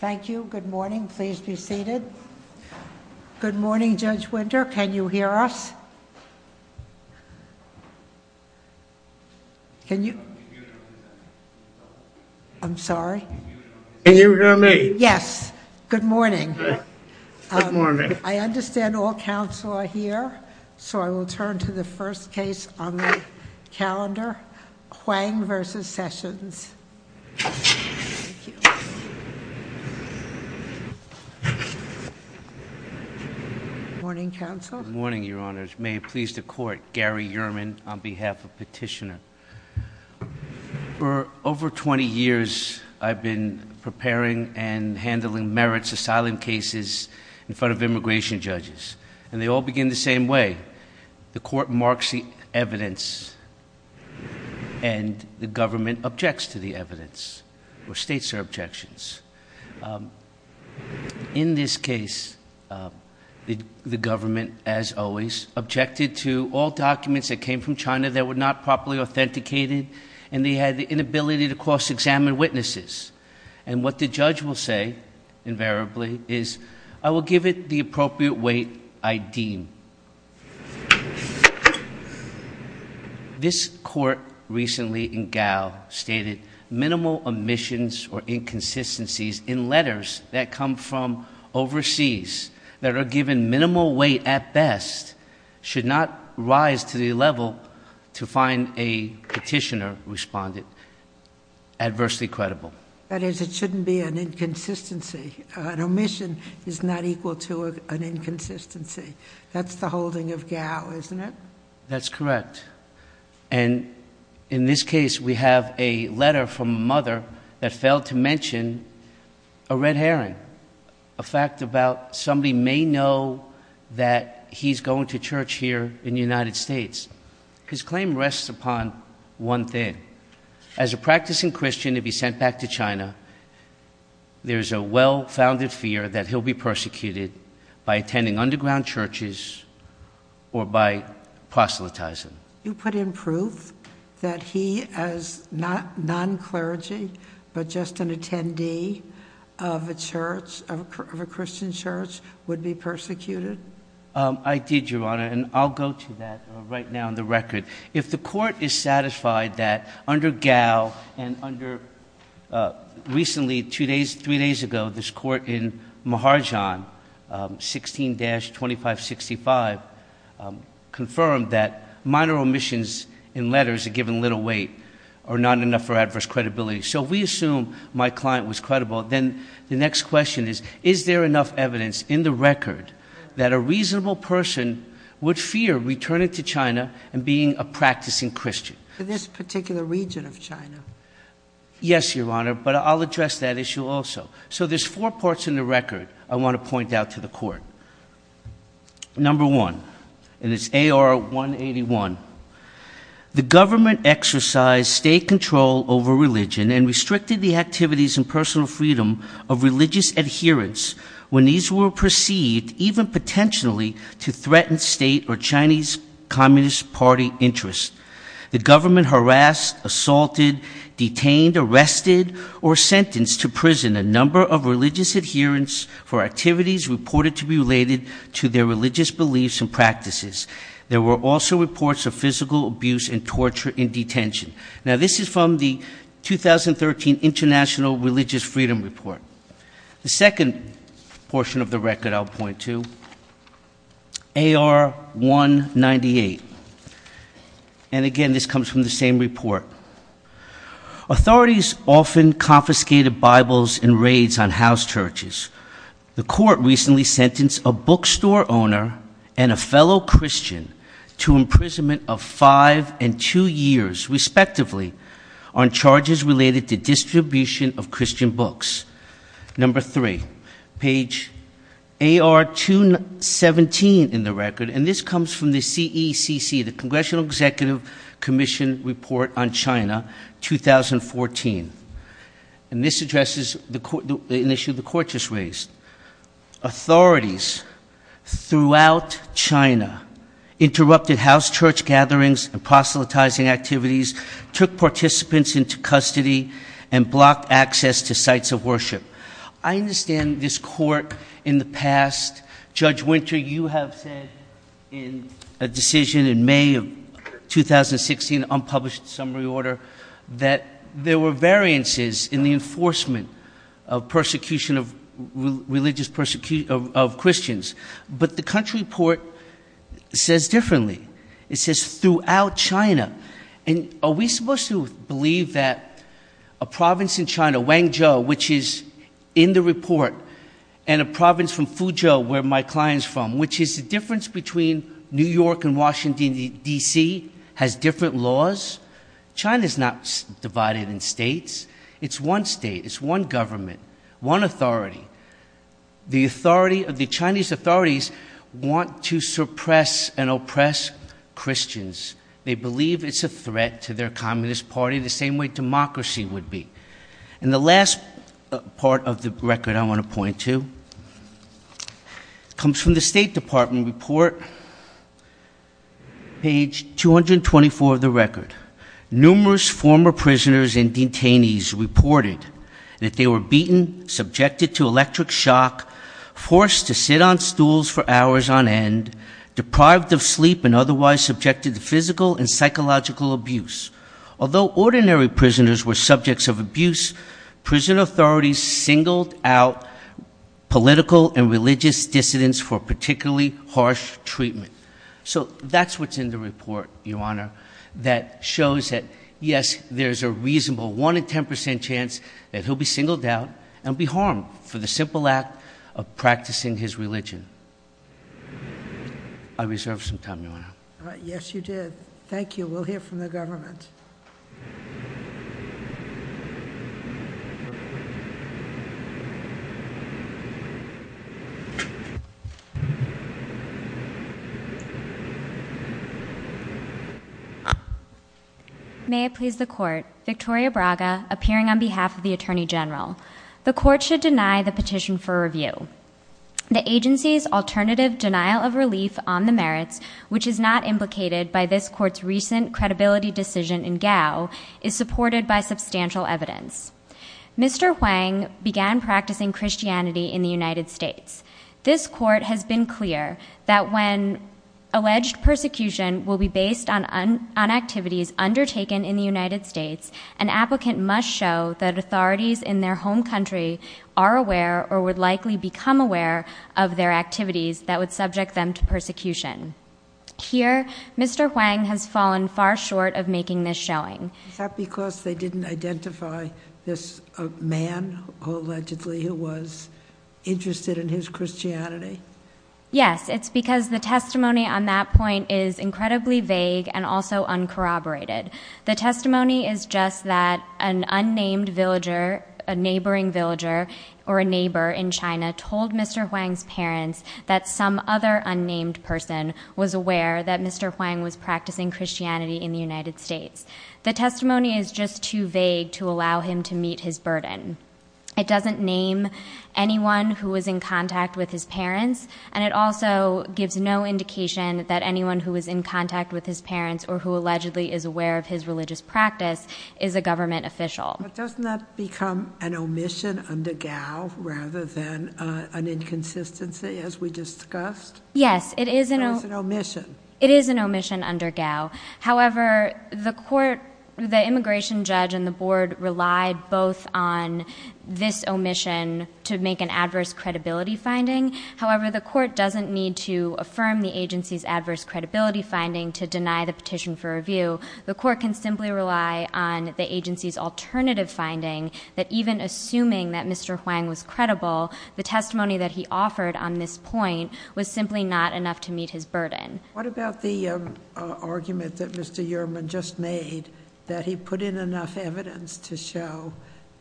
Thank you. Good morning. Please be seated. Good morning, Judge Winter. Can you hear us? I'm sorry. Can you hear me? Yes. Good morning. I understand all counsel are here, so I will turn to the first case on the calendar, Quang v. Sessions. Good morning, counsel. Good morning, Your Honors. May it please the Court, Gary Ehrman, on behalf of Petitioner. For over 20 years, I've been preparing and handling merits of silent cases in front of immigration judges, and they all begin the same way. The Court marks the evidence, and the government as always, objected to all documents that came from China that were not properly authenticated, and they had the inability to cross-examine witnesses. And what the judge will say, invariably, is, I will give it the appropriate weight I deem. This Court recently in Gao stated minimal omissions or inconsistencies in letters that come from overseas that are given minimal weight at best should not rise to the level to find a petitioner responding adversely credible. That is, it shouldn't be an inconsistency. An omission is not equal to an inconsistency. That's the holding of Gao, isn't it? That's correct. And in this case, we have a letter from a mother that failed to mention a red herring, a fact about somebody may know that he's going to church here in the United States. His claim rests upon one thing. As a practicing Christian to be sent back to China, there's a well-founded fear that he'll be persecuted by attending underground churches or by proselytizing. You put in proof that he, as non-clergy, but just an attendee of a church, of a Christian church, would be persecuted? I did, Your Honor, and I'll go to that right now on the record. If the Court is satisfied that under Gao and under recently, two days, three days ago, this Court in Maharjan 16-2565 confirmed that minor omissions in letters are given little weight or not enough for adverse credibility. So we assume my client was credible. Then the next question is, is there enough evidence in the record that a reasonable person would fear returning to China and being a practicing Christian? For this particular region of China? Yes, Your Honor, but I'll address that issue also. So there's four parts in the record I want to point out to the Court. Number one, and it's AR 181. The government exercised state control over religion and restricted the activities and personal freedom of religious adherence when these were perceived, even potentially, to threaten state or Chinese Communist Party interests. The government harassed, assaulted, detained, arrested, or sentenced to prison a number of religious adherents for activities reported to be related to their religious beliefs and practices. There were also reports of physical abuse and torture in detention. Now this is from the 2013 International Religious Freedom Report. The second portion of the record I'll point to, AR 198. And again, this comes from the same report. Authorities often confiscated Bibles in raids on house churches. The court recently sentenced a bookstore owner and a fellow Christian to imprisonment of five and two years, respectively, on charges related to distribution of Christian books. Number three, page AR 217 in the record, and this comes from the CECC, the Congressional Executive Commission Report on China, 2014. And this addresses the issue the court just raised. Authorities throughout China interrupted house church gatherings and proselytizing activities, took participants into custody, and blocked access to sites of worship. I understand this court in the past, Judge Winter, you have said in a decision in May of 2016, unpublished summary order, that there were variances in the enforcement of persecution of religious persecution of Christians. But the report says differently. It says throughout China. And are we supposed to believe that a province in China, Wangzhou, which is in the report, and a province in Fuzhou, where my client's from, which is the difference between New York and Washington DC, has different laws? China's not divided in states. It's one state, it's one government, one authority. The authority of the Chinese authorities want to suppress and oppress Christians. They believe it's a threat to their Communist Party, the same way democracy would be. And the last part of the record I want to point to, comes from the State Department report, page 224 of the record. Numerous former prisoners and detainees reported that they were beaten, subjected to electric shock, forced to sit on stools for hours on end, deprived of sleep, and otherwise subjected to physical and psychological abuse. Although ordinary prisoners were subjects of abuse, prison authorities singled out political and religious dissidents for particularly harsh treatment. So that's what's in the report, Your Honor, that shows that, yes, there's a reasonable one in ten percent chance that he'll be singled out and be harmed for the simple act of practicing his religion. I reserved some time, Your Honor. Yes, you did. Thank you. We'll hear from the appearing on behalf of the Attorney General. The court should deny the petition for review. The agency's alternative denial of relief on the merits, which is not implicated by this court's recent credibility decision in Gao, is supported by substantial evidence. Mr. Huang began practicing Christianity in the United States. This court has been clear that when alleged persecution will be based on activities undertaken in the United States, an applicant must show that authorities in their home country are aware or would likely become aware of their activities that would subject them to persecution. Here, Mr. Huang has fallen far short of making this showing. Is that because they didn't identify this man, allegedly, who was interested in his Christianity? Yes, it's because the testimony on that point is incredibly vague and also uncorroborated. The testimony is just that an unnamed villager, a neighboring villager, or a neighbor in China told Mr. Huang's parents that some other unnamed person was aware that Mr. Huang was practicing Christianity in the United States. The testimony is just too vague to allow him to meet his burden. It doesn't name anyone who was in contact with his parents, and it also gives no indication that anyone who was in contact with his parents or who allegedly is aware of his religious practice is a government official. But doesn't that become an omission under GAO rather than an inconsistency, as we discussed? Yes, it is an omission. It is an omission under GAO. However, the court, the immigration judge, and the board relied both on this omission to make an adverse credibility finding. However, the court doesn't need to affirm the agency's adverse credibility finding to deny the petition for review. The court can simply rely on the agency's alternative finding that even assuming that Mr. Huang was credible, the testimony that he offered on this point was simply not enough to meet his burden. What about the argument that Mr. Uriman just made that he put in enough evidence to show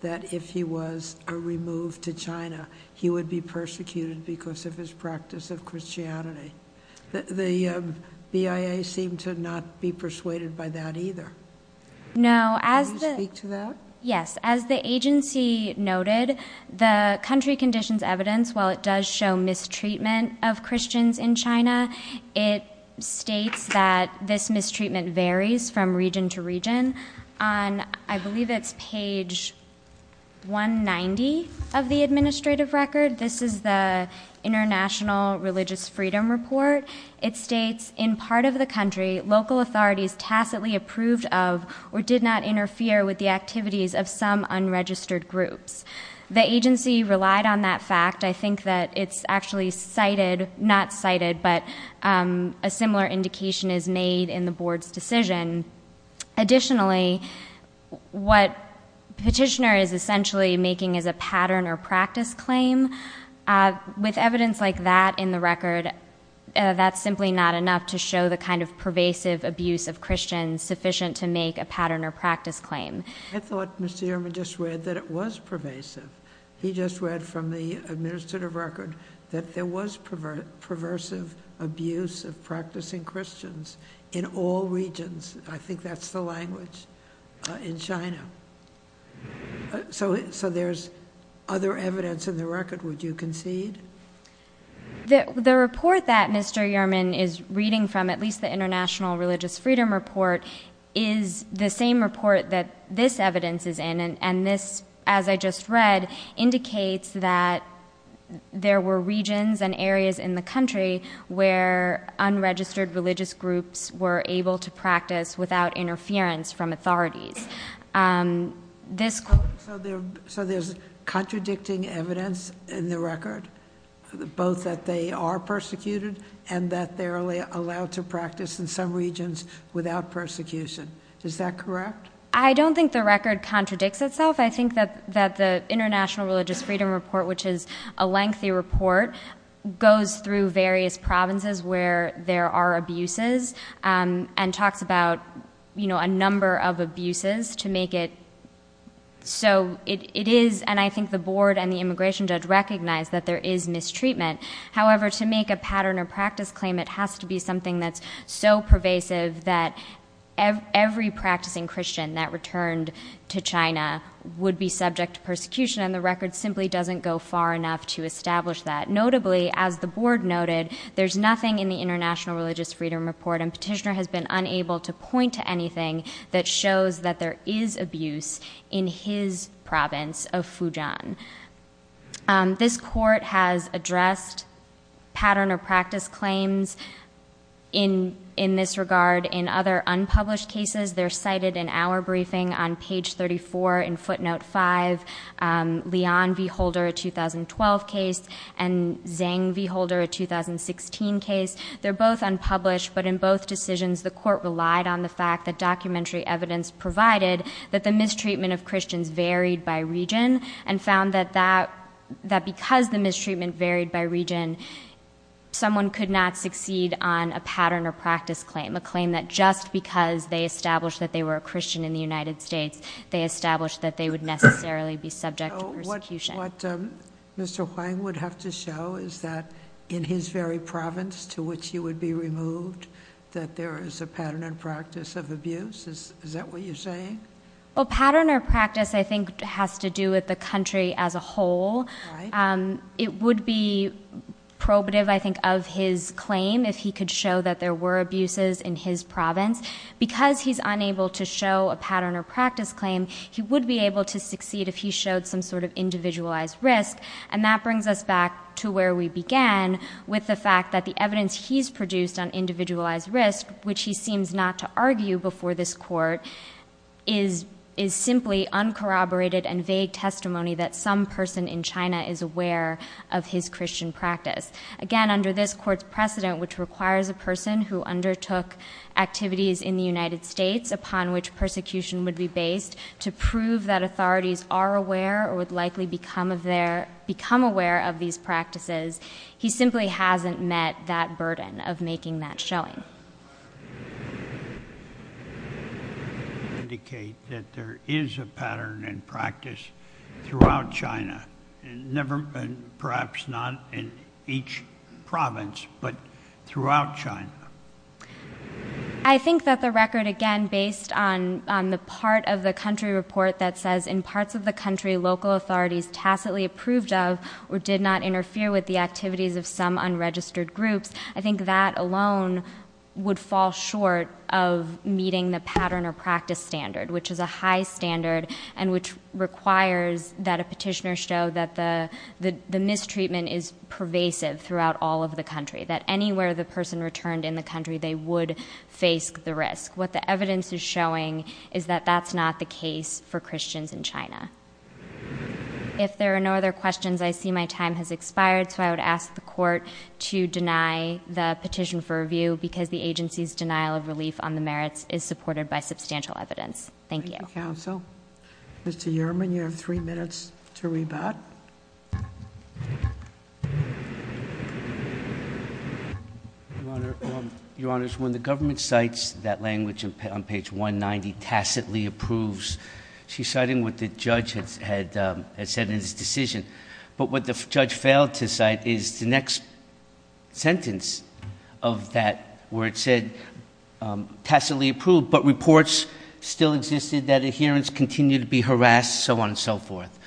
that if he was removed to China, he would be persecuted because of his practice of Christianity? The BIA seemed to not be persuaded by that either. No, as the agency noted, the country conditions evidence, while it does show mistreatment of Christians in the country, it does show mistreatment of Christians in the country. In part of the country, local authorities tacitly approved of or did not interfere with the activities of some unregistered groups. The agency relied on that fact. I think that it's actually cited, not cited, but a similar indication is made in the board's decision. Additionally, what the petitioner is essentially making is a pattern or practice claim. With evidence like that in the record, that's simply not enough to show the kind of pervasive abuse of Christians sufficient to make a pattern or practice claim. I thought Mr. Uriman just read that it was pervasive. He just read from the administrative record that there was perversive abuse of practicing Christians in all regions. I think that's the language in China. There's other evidence in the record, would you concede? The report that Mr. Uriman is reading from, at least the International Religious Freedom Report, is the same report that this evidence is in. This, as I just read, indicates that there were So there's contradicting evidence in the record, both that they are persecuted and that they're allowed to practice in some regions without persecution. Is that correct? I don't think the record contradicts itself. I think that the International Religious Freedom Report, which is a So it is, and I think the board and the immigration judge recognize that there is mistreatment. However, to make a pattern or practice claim, it has to be something that's so pervasive that every practicing Christian that returned to China would be subject to persecution. The record simply doesn't go far enough to establish that. Notably, as the board noted, there's nothing in the International Religious Freedom Report, and Petitioner has been unable to point to anything that shows that there is abuse in his province of Fujian. This court has addressed pattern or practice claims in this regard in other unpublished cases. They're cited in our briefing on page 34 in footnote 5, Leon v. Holder, a 2012 case, and Zhang v. Holder, a 2016 case. They're both unpublished, but in both decisions, the court relied on the fact that documentary evidence provided that the mistreatment of Christians varied by region and found that because the mistreatment varied by region, someone could not succeed on a pattern or practice claim, a claim that just because they established that they were a Christian in the United States, they established that they would necessarily be subject to persecution. So what Mr. Huang would have to show is that in his very province to which he would be removed, that there is a pattern or practice of abuse? Is that what you're saying? Well, pattern or practice, I think, has to do with the country as a whole. It would be probative, I think, of his claim if he could show that there were pattern or practice claims, he would be able to succeed if he showed some sort of individualized risk. And that brings us back to where we began, with the fact that the evidence he's produced on individualized risk, which he seems not to argue before this court, is simply uncorroborated and vague testimony that some person in China is aware of his to prove that authorities are aware or would likely become aware of these practices, he simply hasn't met that burden of making that showing. You indicate that there is a pattern and practice throughout China, and perhaps not in each province, but throughout China. I think that the record, again, based on the part of the country report that says in parts of the country local authorities tacitly approved of or did not interfere with the activities of some unregistered groups, I think that alone would fall short of meeting the pattern or practice standard, which is a high standard and which requires that a petitioner show that the mistreatment is a risk. What the evidence is showing is that that's not the case for Christians in China. If there are no other questions, I see my time has expired, so I would ask the court to deny the petition for review because the agency's denial of relief on the merits is supported by substantial evidence. Thank you. Thank you, counsel. Mr. Yerman, you have three minutes to rebut. Your Honor, when the government cites that language on page 190, tacitly approves, she's citing what the judge had said in his decision. But what the judge failed to cite is the next sentence of that where it said tacitly approved, but reports still existed that adherence continued to be harassed, so on and so forth.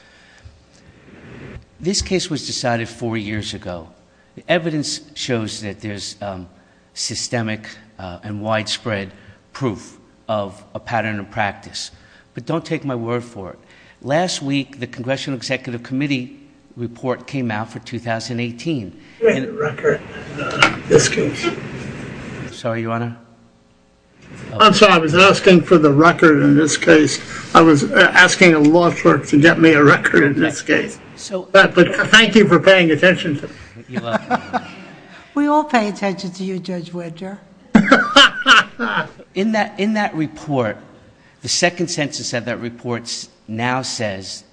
This case was decided four years ago. The evidence shows that there's systemic and widespread proof of a pattern of practice. But don't take my word for it. Last week, the Congressional Executive Committee report came out for 2018. I'm sorry, I was asking for the record in this case. I was asking a law firm to get me a record the next day. But thank you for paying attention. We all pay attention to you, Judge Wedger. In that report, the second sentence of that report now says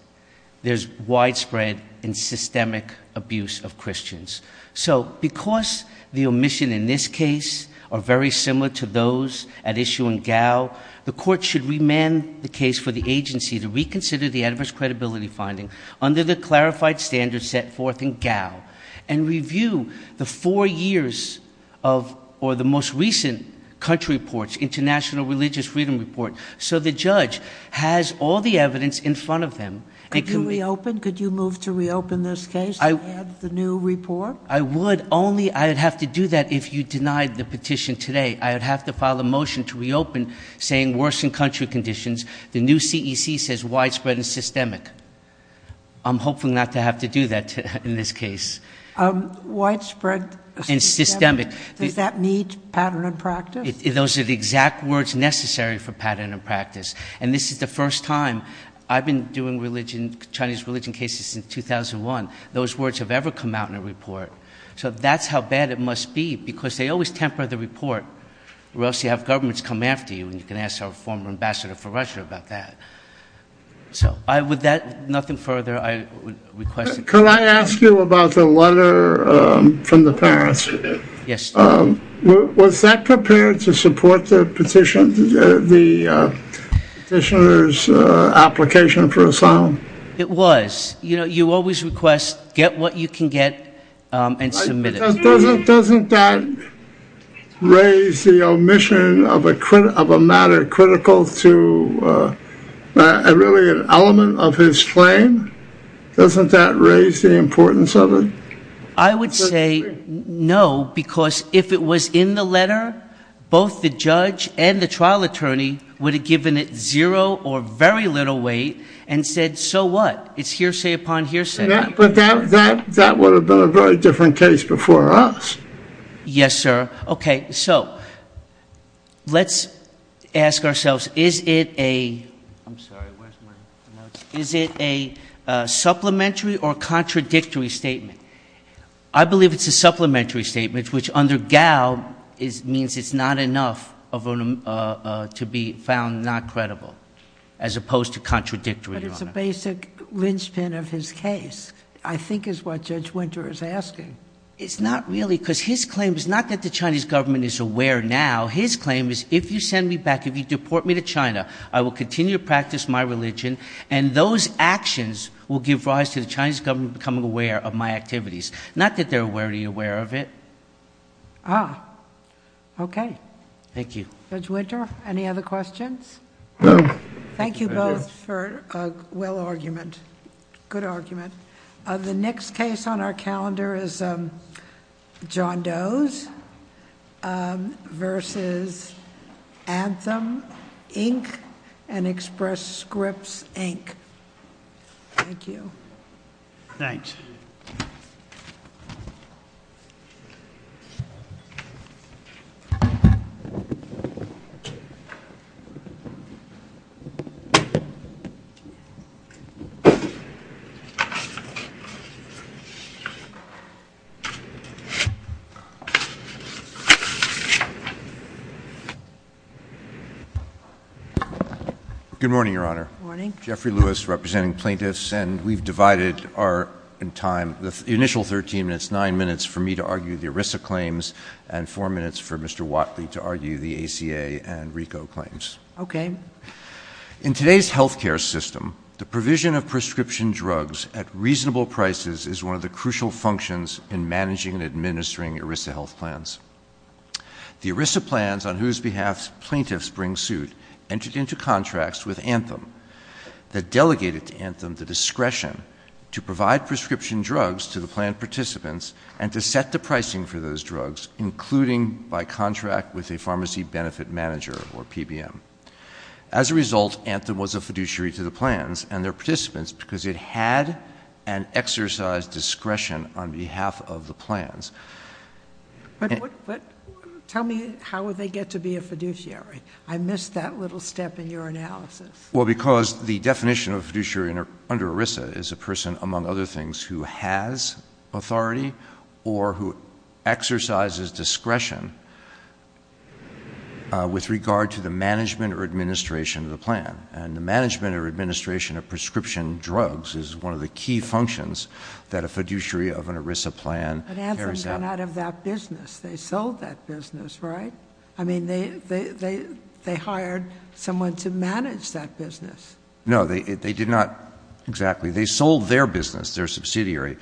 there's widespread and systemic abuse of Christians. So because the omission in this case are very similar to those at issue in Gao, the court should remand the case for the agency to reconsider the adverse credibility finding under the clarified standards set forth in Gao and review the four years of, or the most recent country reports, international religious freedom report, so the judge has all the evidence in front of them. Could you reopen? Could you move to reopen this case and add the new report? I would only, I would have to do that if you denied the petition today. I would have to file a motion to reopen saying worsened country conditions. The new CEC says widespread and systemic. I'm hoping not to have to do that in this case. Widespread and systemic, does that mean pattern and practice? Those are the exact words necessary for pattern and practice. And this is the first time, I've been doing religion, Chinese religion cases since 2001, those words have ever come out in a report. So that's how bad it must be, because they always temper the report, or else you have governments come after you, and you can ask our former ambassador for Russia about that. So, with that, nothing further I would request. Can I ask you about the letter from the Paris? Yes. Was that prepared to support the petition, the petitioner's application for asylum? It was. You know, you always request, get what you can get and submit it. Doesn't that raise the omission of a matter critical to really an element of his claim? Doesn't that raise the importance of it? I would say no, because if it was in the letter, both the judge and the trial attorney would have given it zero or very little weight and said, so what, it's hearsay upon hearsay. That would have been a very different case before us. Yes, sir. Okay. So, let's ask ourselves, is it a supplementary or contradictory statement? I believe it's a supplementary statement, which under Gao means it's not enough to be found not credible, as opposed to contradictory. But it's a basic linchpin of his case, I think is what Judge Winter is asking. It's not really, because his claim is not that the Chinese government is aware now. His claim is if you send me back, if you deport me to China, I will continue to practice my religion and those actions will give rise to the Chinese government becoming aware of my activities. Not that they're already aware of it. Ah, okay. Thank you. Judge Winter, any other questions? No. Thank you both for a well argument, good argument. The next case on our calendar is John Doe's versus Anthem, Inc. and Express Scripts, Inc. Thank you. Thanks. Good morning, Your Honor. Good morning. Jeffrey Lewis representing plaintiffs, and we've divided our time, the initial 13 minutes, 9 minutes for me to argue the ERISA claims and 4 minutes for Mr. Watley to argue the ACA and RICO claims. Okay. In today's healthcare system, the provision of prescription drugs at reasonable prices is one of the crucial functions in managing and administering ERISA health plans. The ERISA plans, on whose behalf plaintiffs bring suit, entered into contracts with Anthem that delegated to Anthem the discretion to provide prescription drugs to the plan participants and to set the pricing for those drugs, including by contract with a pharmacy benefit manager or PBM. As a result, Anthem was a fiduciary to the plans and their participants because it had an exercise discretion on behalf of the plans. But tell me, how would they get to be a fiduciary? I missed that little step in your analysis. Well, because the definition of fiduciary under ERISA is a person, among other things, who has authority or who exercises discretion with regard to the management or administration of the plan. And the management or administration of prescription drugs is one of the key functions that a fiduciary of an ERISA plan carries out. But Anthem got out of that business. They sold that business, right? I mean, they hired someone to manage that business. No, they did not exactly. They sold their business, their subsidiary,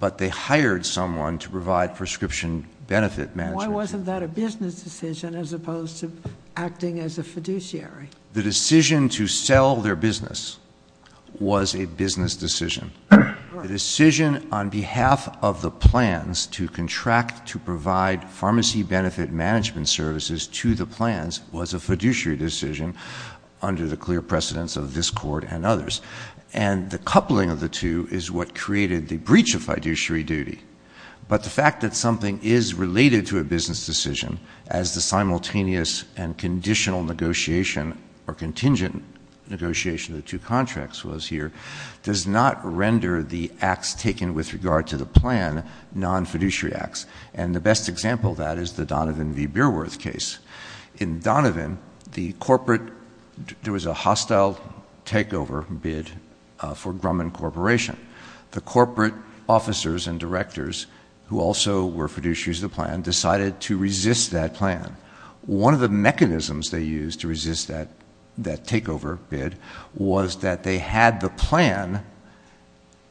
but they hired someone to provide prescription benefit management. Why wasn't that a business decision as opposed to acting as a fiduciary? The decision to sell their business was a business decision. The decision on behalf of the plans to contract to provide pharmacy benefit management services to the plans was a fiduciary decision under the clear precedence of this court and others. And the coupling of the two is what created the breach of fiduciary duty. But the fact that something is related to a business decision, as the simultaneous and conditional negotiation or contingent negotiation of the two contracts was here, does not render the acts taken with regard to the plan non-fiduciary acts. And the best example of that is the Donovan v. Beerworth case. In Donovan, there was a hostile takeover bid for Grumman Corporation. The corporate officers and directors, who also were fiduciaries of the plan, decided to resist that plan. One of the mechanisms they used to resist that takeover bid was that they had the plan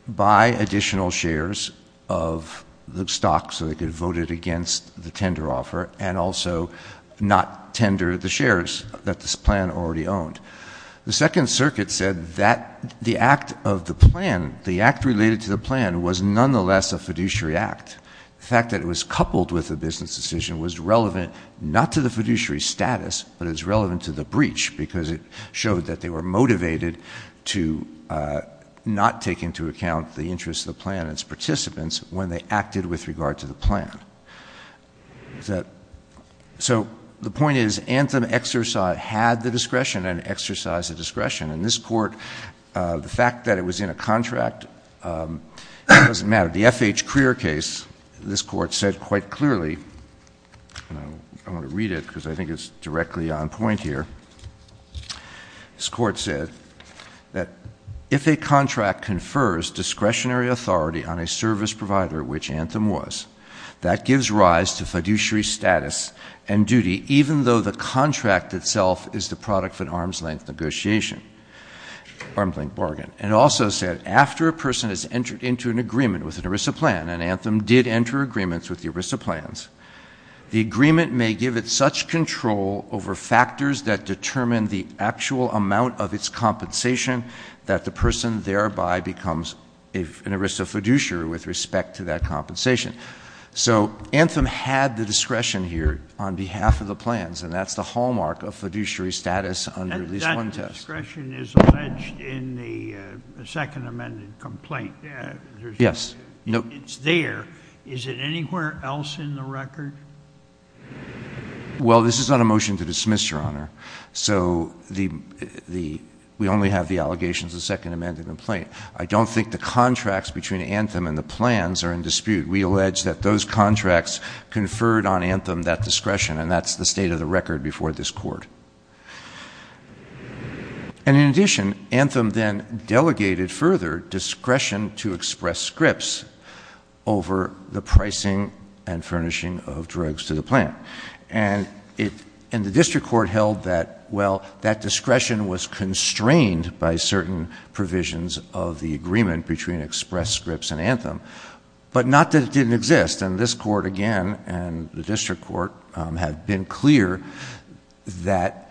buy additional shares of the stock so they could vote it against the tender offer and also not tender the shares that this plan already owned. The Second Circuit said that the act of the plan, the act related to the plan, was nonetheless a fiduciary act. The fact that it was coupled with a business decision was relevant not to the fiduciary status, but it was relevant to the breach because it showed that they were motivated to not take into account the interests of the plan and its participants when they acted with regard to the plan. So the point is Anthem exercise had the discretion and exercised the discretion. And this Court, the fact that it was in a contract, it doesn't matter. The F.H. Clear case, this Court said quite clearly, I'm going to read it because I think it's directly on point here. This Court said that if a contract confers discretionary authority on a service provider, which Anthem was, that gives rise to fiduciary status and duty even though the contract itself is the product of an arm's-length negotiation, arm's-length bargain. And it also said, after a person has entered into an agreement with an ERISA plan, and Anthem did enter agreements with the ERISA plans, the agreement may give it such control over factors that determine the actual amount of its compensation that the person thereby becomes an ERISA fiduciary with respect to that compensation. So Anthem had the discretion here on behalf of the plans, and that's the hallmark of fiduciary status under this one test. The discretion is alleged in the second amended complaint. Yes. It's there. Is it anywhere else in the record? Well, this is not a motion to dismiss, Your Honor. So we only have the allegations of the second amended complaint. I don't think the contracts between Anthem and the plans are in dispute. We allege that those contracts conferred on Anthem that discretion, and that's the state of the record before this court. And in addition, Anthem then delegated further discretion to Express Scripts over the pricing and furnishing of drugs to the plan. And the district court held that, well, that discretion was constrained by certain provisions of the agreement between Express Scripts and Anthem, but not that it didn't exist. And this court, again, and the district court had been clear that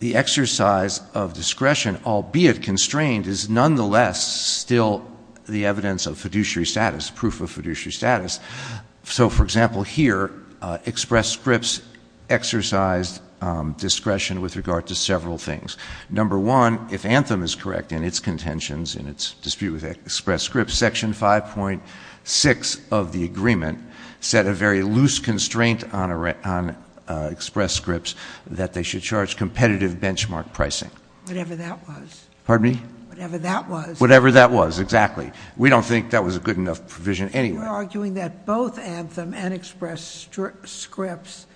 the exercise of discretion, albeit constrained, is nonetheless still the evidence of fiduciary status, proof of fiduciary status. So, for example, here, Express Scripts exercised discretion with regard to several things. Number one, if Anthem is correct in its contentions and its dispute with Express Scripts, Section 5.6 of the agreement set a very loose constraint on Express Scripts that they should charge competitive benchmark pricing. Whatever that was. Pardon me? Whatever that was. Whatever that was, exactly. We don't think that was a good enough provision anyway. We are arguing that both Anthem and Express Scripts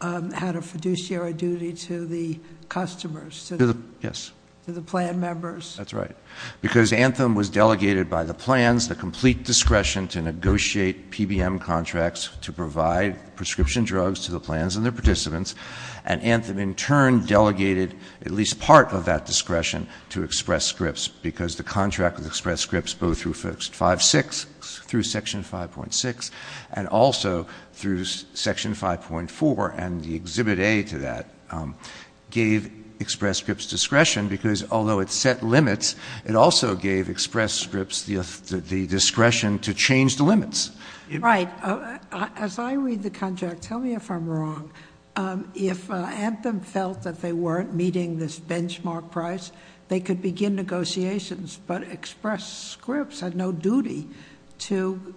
had a fiduciary duty to the customers. Yes. To the plan members. That's right. Because Anthem was delegated by the plans the complete discretion to negotiate PBM contracts to provide prescription drugs to the plans and their participants, and Anthem, in turn, delegated at least part of that discretion to Express Scripts because the contract with Express Scripts, both through Section 5.6 and also through Section 5.4 and the Exhibit A to that, gave Express Scripts discretion because, although it set limits, it also gave Express Scripts the discretion to change the limits. Right. As I read the contract, tell me if I'm wrong, if Anthem felt that they weren't meeting this benchmark price, they could begin negotiations, but Express Scripts had no duty to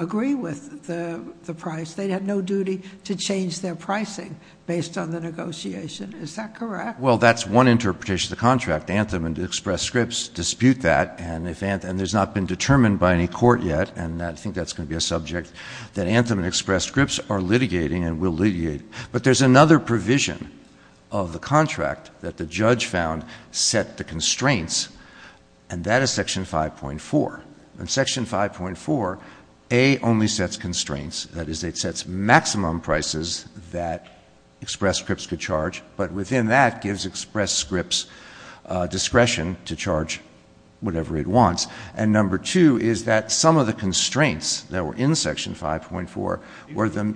agree with the price. They had no duty to change their pricing based on the negotiation. Is that correct? Well, that's one interpretation of the contract. Anthem and Express Scripts dispute that, and it has not been determined by any court yet, and I think that's going to be a subject that Anthem and Express Scripts are litigating and will litigate. But there's another provision of the contract that the judge found set the constraints, and that is Section 5.4. In Section 5.4, A only sets constraints. That is, it sets maximum prices that Express Scripts could charge, but within that gives Express Scripts discretion to charge whatever it wants. And number two is that some of the constraints that were in Section 5.4 were the—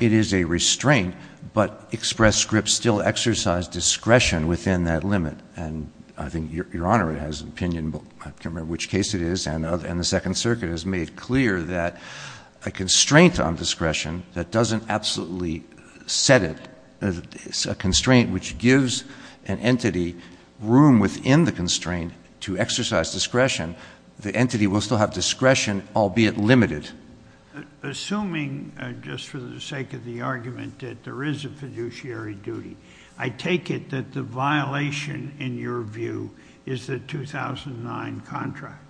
It is a restraint, but Express Scripts still exercise discretion within that limit. And I think Your Honor has an opinion, but I can't remember which case it is, and the Second Circuit has made clear that a constraint on discretion that doesn't absolutely set it, a constraint which gives an entity room within the constraint to exercise discretion, the entity will still have discretion, albeit limited. Assuming, just for the sake of the argument, that there is a fiduciary duty, I take it that the violation in your view is the 2009 contract.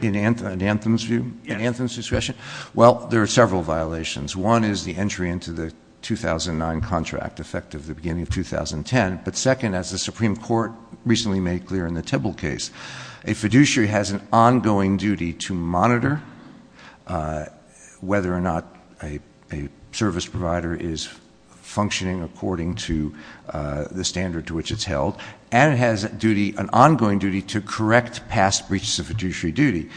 In Anthem's view? Yes. In Anthem's discretion? Well, there are several violations. One is the entry into the 2009 contract, effective at the beginning of 2010. But second, as the Supreme Court recently made clear in the Tibble case, a fiduciary has an ongoing duty to monitor whether or not a service provider is functioning according to the standard to which it's held, and it has an ongoing duty to correct past breaches of fiduciary duty.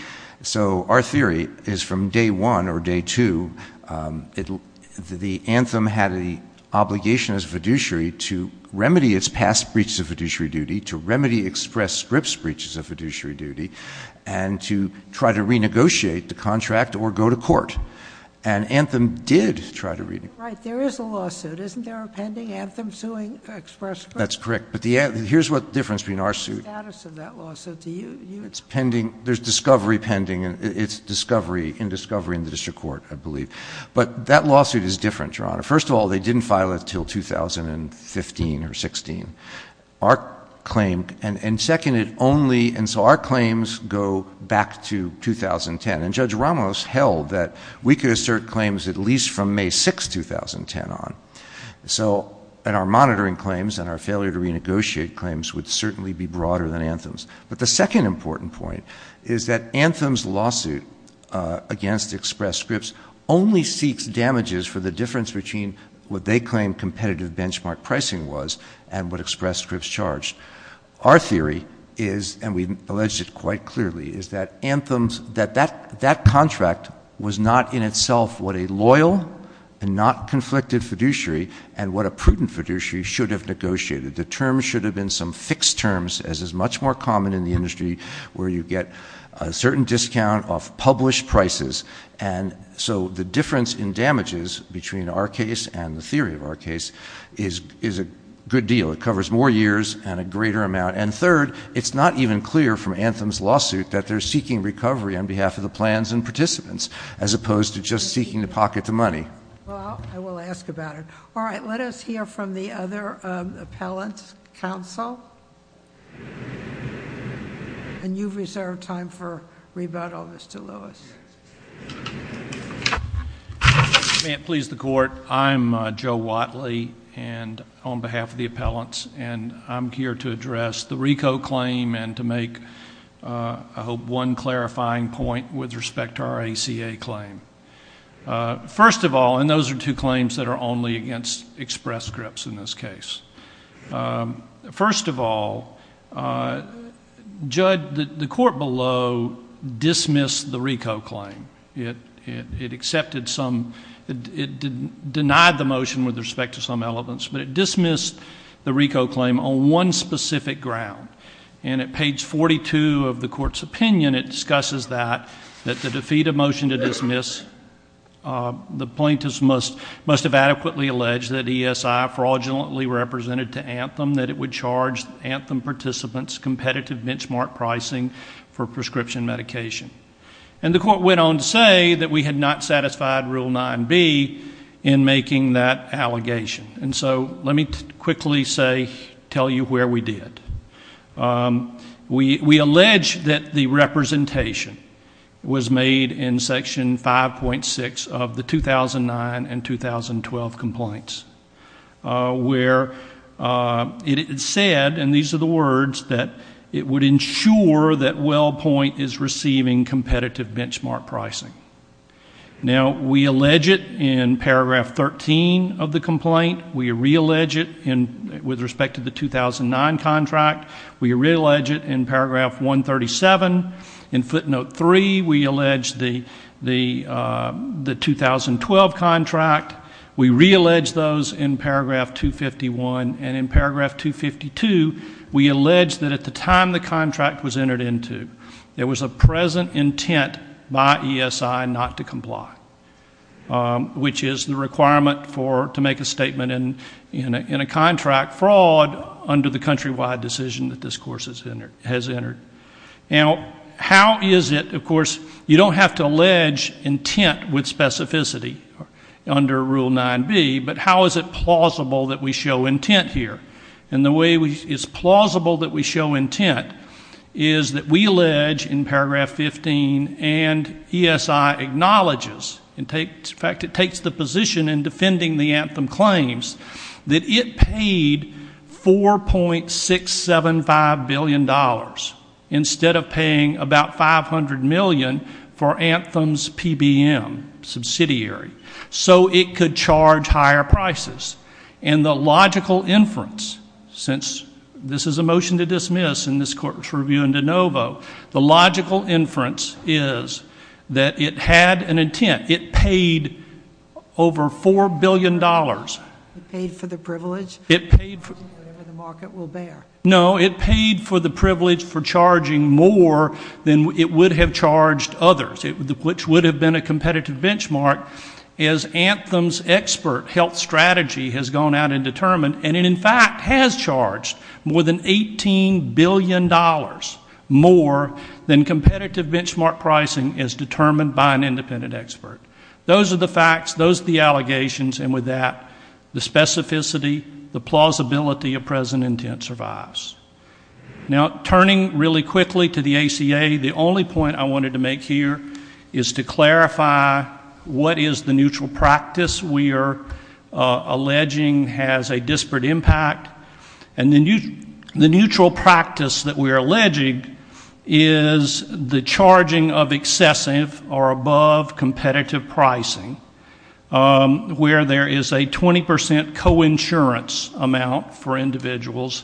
So our theory is from day one or day two that Anthem had an obligation as a fiduciary to remedy its past breaches of fiduciary duty, to remedy Express Scripts' breaches of fiduciary duty, and to try to renegotiate the contract or go to court. And Anthem did try to renegotiate. Right. There is a lawsuit. Isn't there a pending Anthem suing Express Scripts? That's correct. But here's what the difference between our suit. What's the status of that lawsuit? It's pending. There's discovery pending. It's discovery, in discovery in the district court, I believe. But that lawsuit is different, Your Honor. First of all, they didn't file it until 2015 or 16. Our claim, and second, it only, and so our claims go back to 2010. And Judge Ramos held that we could assert claims at least from May 6, 2010 on. So, and our monitoring claims and our failure to renegotiate claims would certainly be broader than Anthem's. But the second important point is that Anthem's lawsuit against Express Scripts only seeks damages for the difference between what they claim competitive benchmark pricing was and what Express Scripts charged. Our theory is, and we've alleged it quite clearly, is that Anthem's, that that contract was not in itself what a loyal and not conflicted fiduciary and what a prudent fiduciary should have negotiated. The terms should have been some fixed terms, as is much more common in the industry where you get a certain discount off published prices. And so the difference in damages between our case and the theory of our case is a good deal. It covers more years and a greater amount. And third, it's not even clear from Anthem's lawsuit that they're seeking recovery on behalf of the plans and participants, as opposed to just seeking to pocket the money. Well, I will ask about it. All right, let us hear from the other appellants. Counsel? And you've reserved time for rebuttal, Mr. Lewis. May it please the Court, I'm Joe Watley, and on behalf of the appellants, and I'm here to address the RICO claim and to make, I hope, one clarifying point with respect to our ACA claim. First of all, and those are two claims that are only against Express Scripts in this case. First of all, Judge, the Court below dismissed the RICO claim. It accepted some — it denied the motion with respect to some elements, but it dismissed the RICO claim on one specific ground. And at page 42 of the Court's opinion, it discusses that, that to defeat a motion to dismiss, the plaintiffs must have adequately alleged that ESI fraudulently represented to Anthem, that it would charge Anthem participants competitive benchmark pricing for prescription medication. And the Court went on to say that we had not satisfied Rule 9b in making that allegation. And so let me quickly say, tell you where we did it. We allege that the representation was made in Section 5.6 of the 2009 and 2012 complaints, where it is said, and these are the words, that it would ensure that WellPoint is receiving competitive benchmark pricing. Now, we allege it in paragraph 13 of the complaint. We reallege it with respect to the 2009 contract. We reallege it in paragraph 137. In footnote 3, we allege the 2012 contract. We reallege those in paragraph 251. And in paragraph 252, we allege that at the time the contract was entered into, there was a present intent by ESI not to comply, which is the requirement for, to make a statement in a contract fraud under the countrywide decision that this Court has entered. Now, how is it, of course, you don't have to allege intent with specificity under Rule 9b, but how is it plausible that we show intent here? And the way it's plausible that we show intent is that we allege in paragraph 15 and ESI acknowledges, in fact, it takes the position in defending the Anthem claims, that it paid $4.675 billion instead of paying about $500 million for Anthem's PBM subsidiary. So it could charge higher prices. And the logical inference, since this is a motion to dismiss in this Court's review in de novo, the logical inference is that it had an intent. It paid over $4 billion. It paid for the privilege? It paid for the privilege for charging more than it would have charged others, which would have been a competitive benchmark. As Anthem's expert health strategy has gone out and determined, and it in fact has charged more than $18 billion more than competitive benchmark pricing is determined by an independent expert. Those are the facts. Those are the allegations. And with that, the specificity, the plausibility of present intent survives. Now, turning really quickly to the ACA, the only point I wanted to make here is to clarify what is the neutral practice we are alleging has a disparate impact. And the neutral practice that we are alleging is the charging of excessive or above competitive pricing, where there is a 20 percent coinsurance amount for individuals.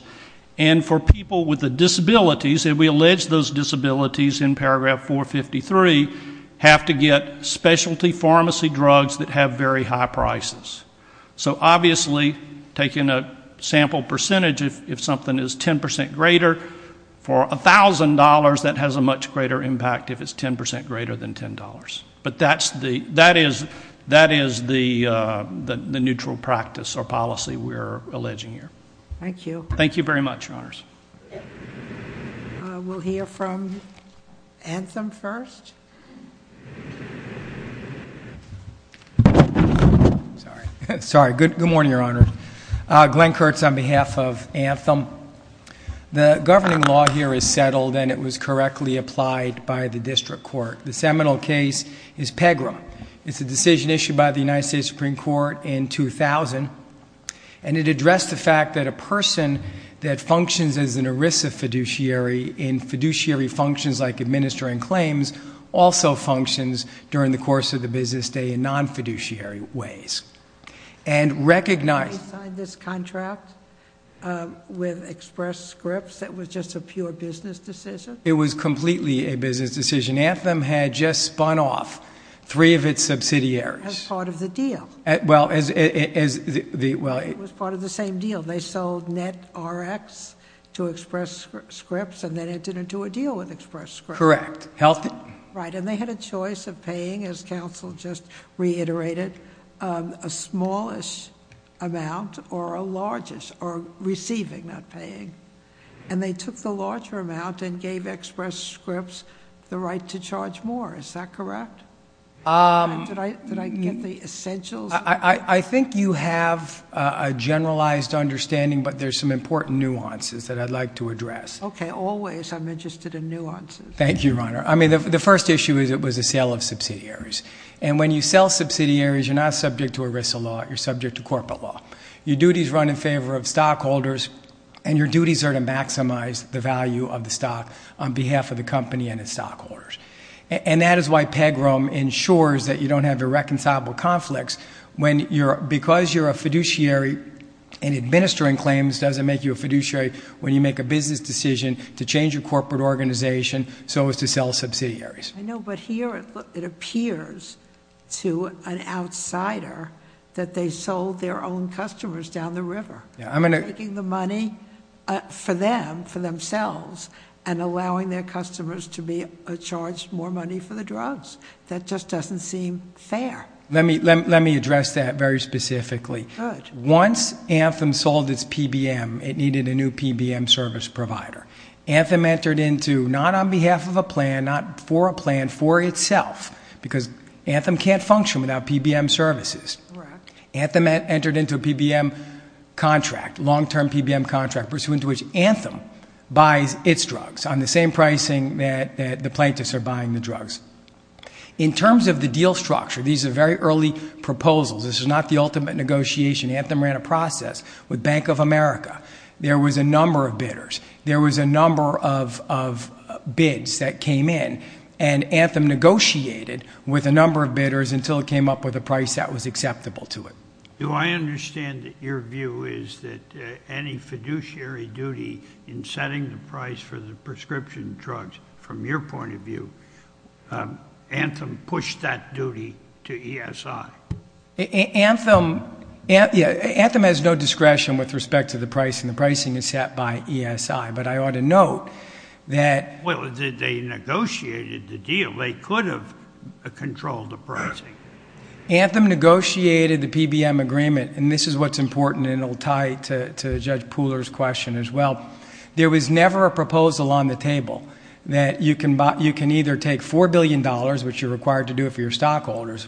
And for people with disabilities, if we allege those disabilities in paragraph 453, have to get specialty pharmacy drugs that have very high prices. So obviously, taking a sample percentage, if something is 10 percent greater, for $1,000, that has a much greater impact if it's 10 percent greater than $10. But that is the neutral practice or policy we are alleging here. Thank you. Thank you very much, Your Honors. We'll hear from Anthem first. Sorry. Good morning, Your Honor. Glenn Kurtz on behalf of Anthem. The governing law here is settled, and it was correctly applied by the district court. The seminal case is PEGRA. It's a decision issued by the United States Supreme Court in 2000, and it addressed the fact that a person that functions as an ERISA fiduciary in fiduciary functions like administering claims also functions during the course of the business day in non-fiduciary ways. And recognize Did you sign this contract with Express Scripts that was just a pure business decision? It was completely a business decision. Anthem had just spun off three of its subsidiaries. As part of the deal. Well, as the It was part of the same deal. They sold NetRx to Express Scripts, and they entered into a deal with Express Scripts. Correct. And they had a choice of paying, as counsel just reiterated, a smallest amount or a largest, or receiving that paying. And they took the larger amount and gave Express Scripts the right to charge more. Is that correct? Did I get the essentials? I think you have a generalized understanding, but there's some important nuances that I'd like to address. Okay, always. I'm interested in nuances. Thank you, Your Honor. I mean, the first issue is it was a sale of subsidiaries. And when you sell subsidiaries, you're not subject to ERISA law. You're subject to corporate law. Your duties run in favor of stockholders, and your duties are to maximize the value of the stock on behalf of the company and its stockholders. And that is why PEGROM ensures that you don't have irreconcilable conflicts. Because you're a fiduciary and administering claims doesn't make you a fiduciary when you make a business decision to change a corporate organization so as to sell subsidiaries. I know, but here it appears to an outsider that they sold their own customers down the river, taking the money for them, for themselves, and allowing their customers to be charged more money for the drugs. That just doesn't seem fair. Let me address that very specifically. Once Anthem sold its PBM, it needed a new PBM service provider. Anthem entered into, not on behalf of a plan, not for a plan, for itself. Because Anthem can't function without PBM services. Anthem entered into a PBM contract, long-term PBM contract, pursuant to which Anthem buys its drugs on the same pricing that the plaintiffs are buying the drugs. In terms of the deal structure, these are very early proposals. This is not the ultimate negotiation. Anthem ran a process with Bank of America. There was a number of bidders. There was a number of bids that came in. And Anthem negotiated with a number of bidders until it came up with a price that was acceptable to it. Do I understand that your view is that any fiduciary duty in setting the price for the prescription drugs, from your point of view, Anthem pushed that duty to ESI? Anthem has no discretion with respect to the price, and the pricing is set by ESI. But I ought to note that they negotiated the deal. They could have controlled the pricing. Anthem negotiated the PBM agreement, and this is what's important, and it will tie to Judge Pooler's question as well. There was never a proposal on the table that you can either take $4 billion, which you're required to do if you're stockholders,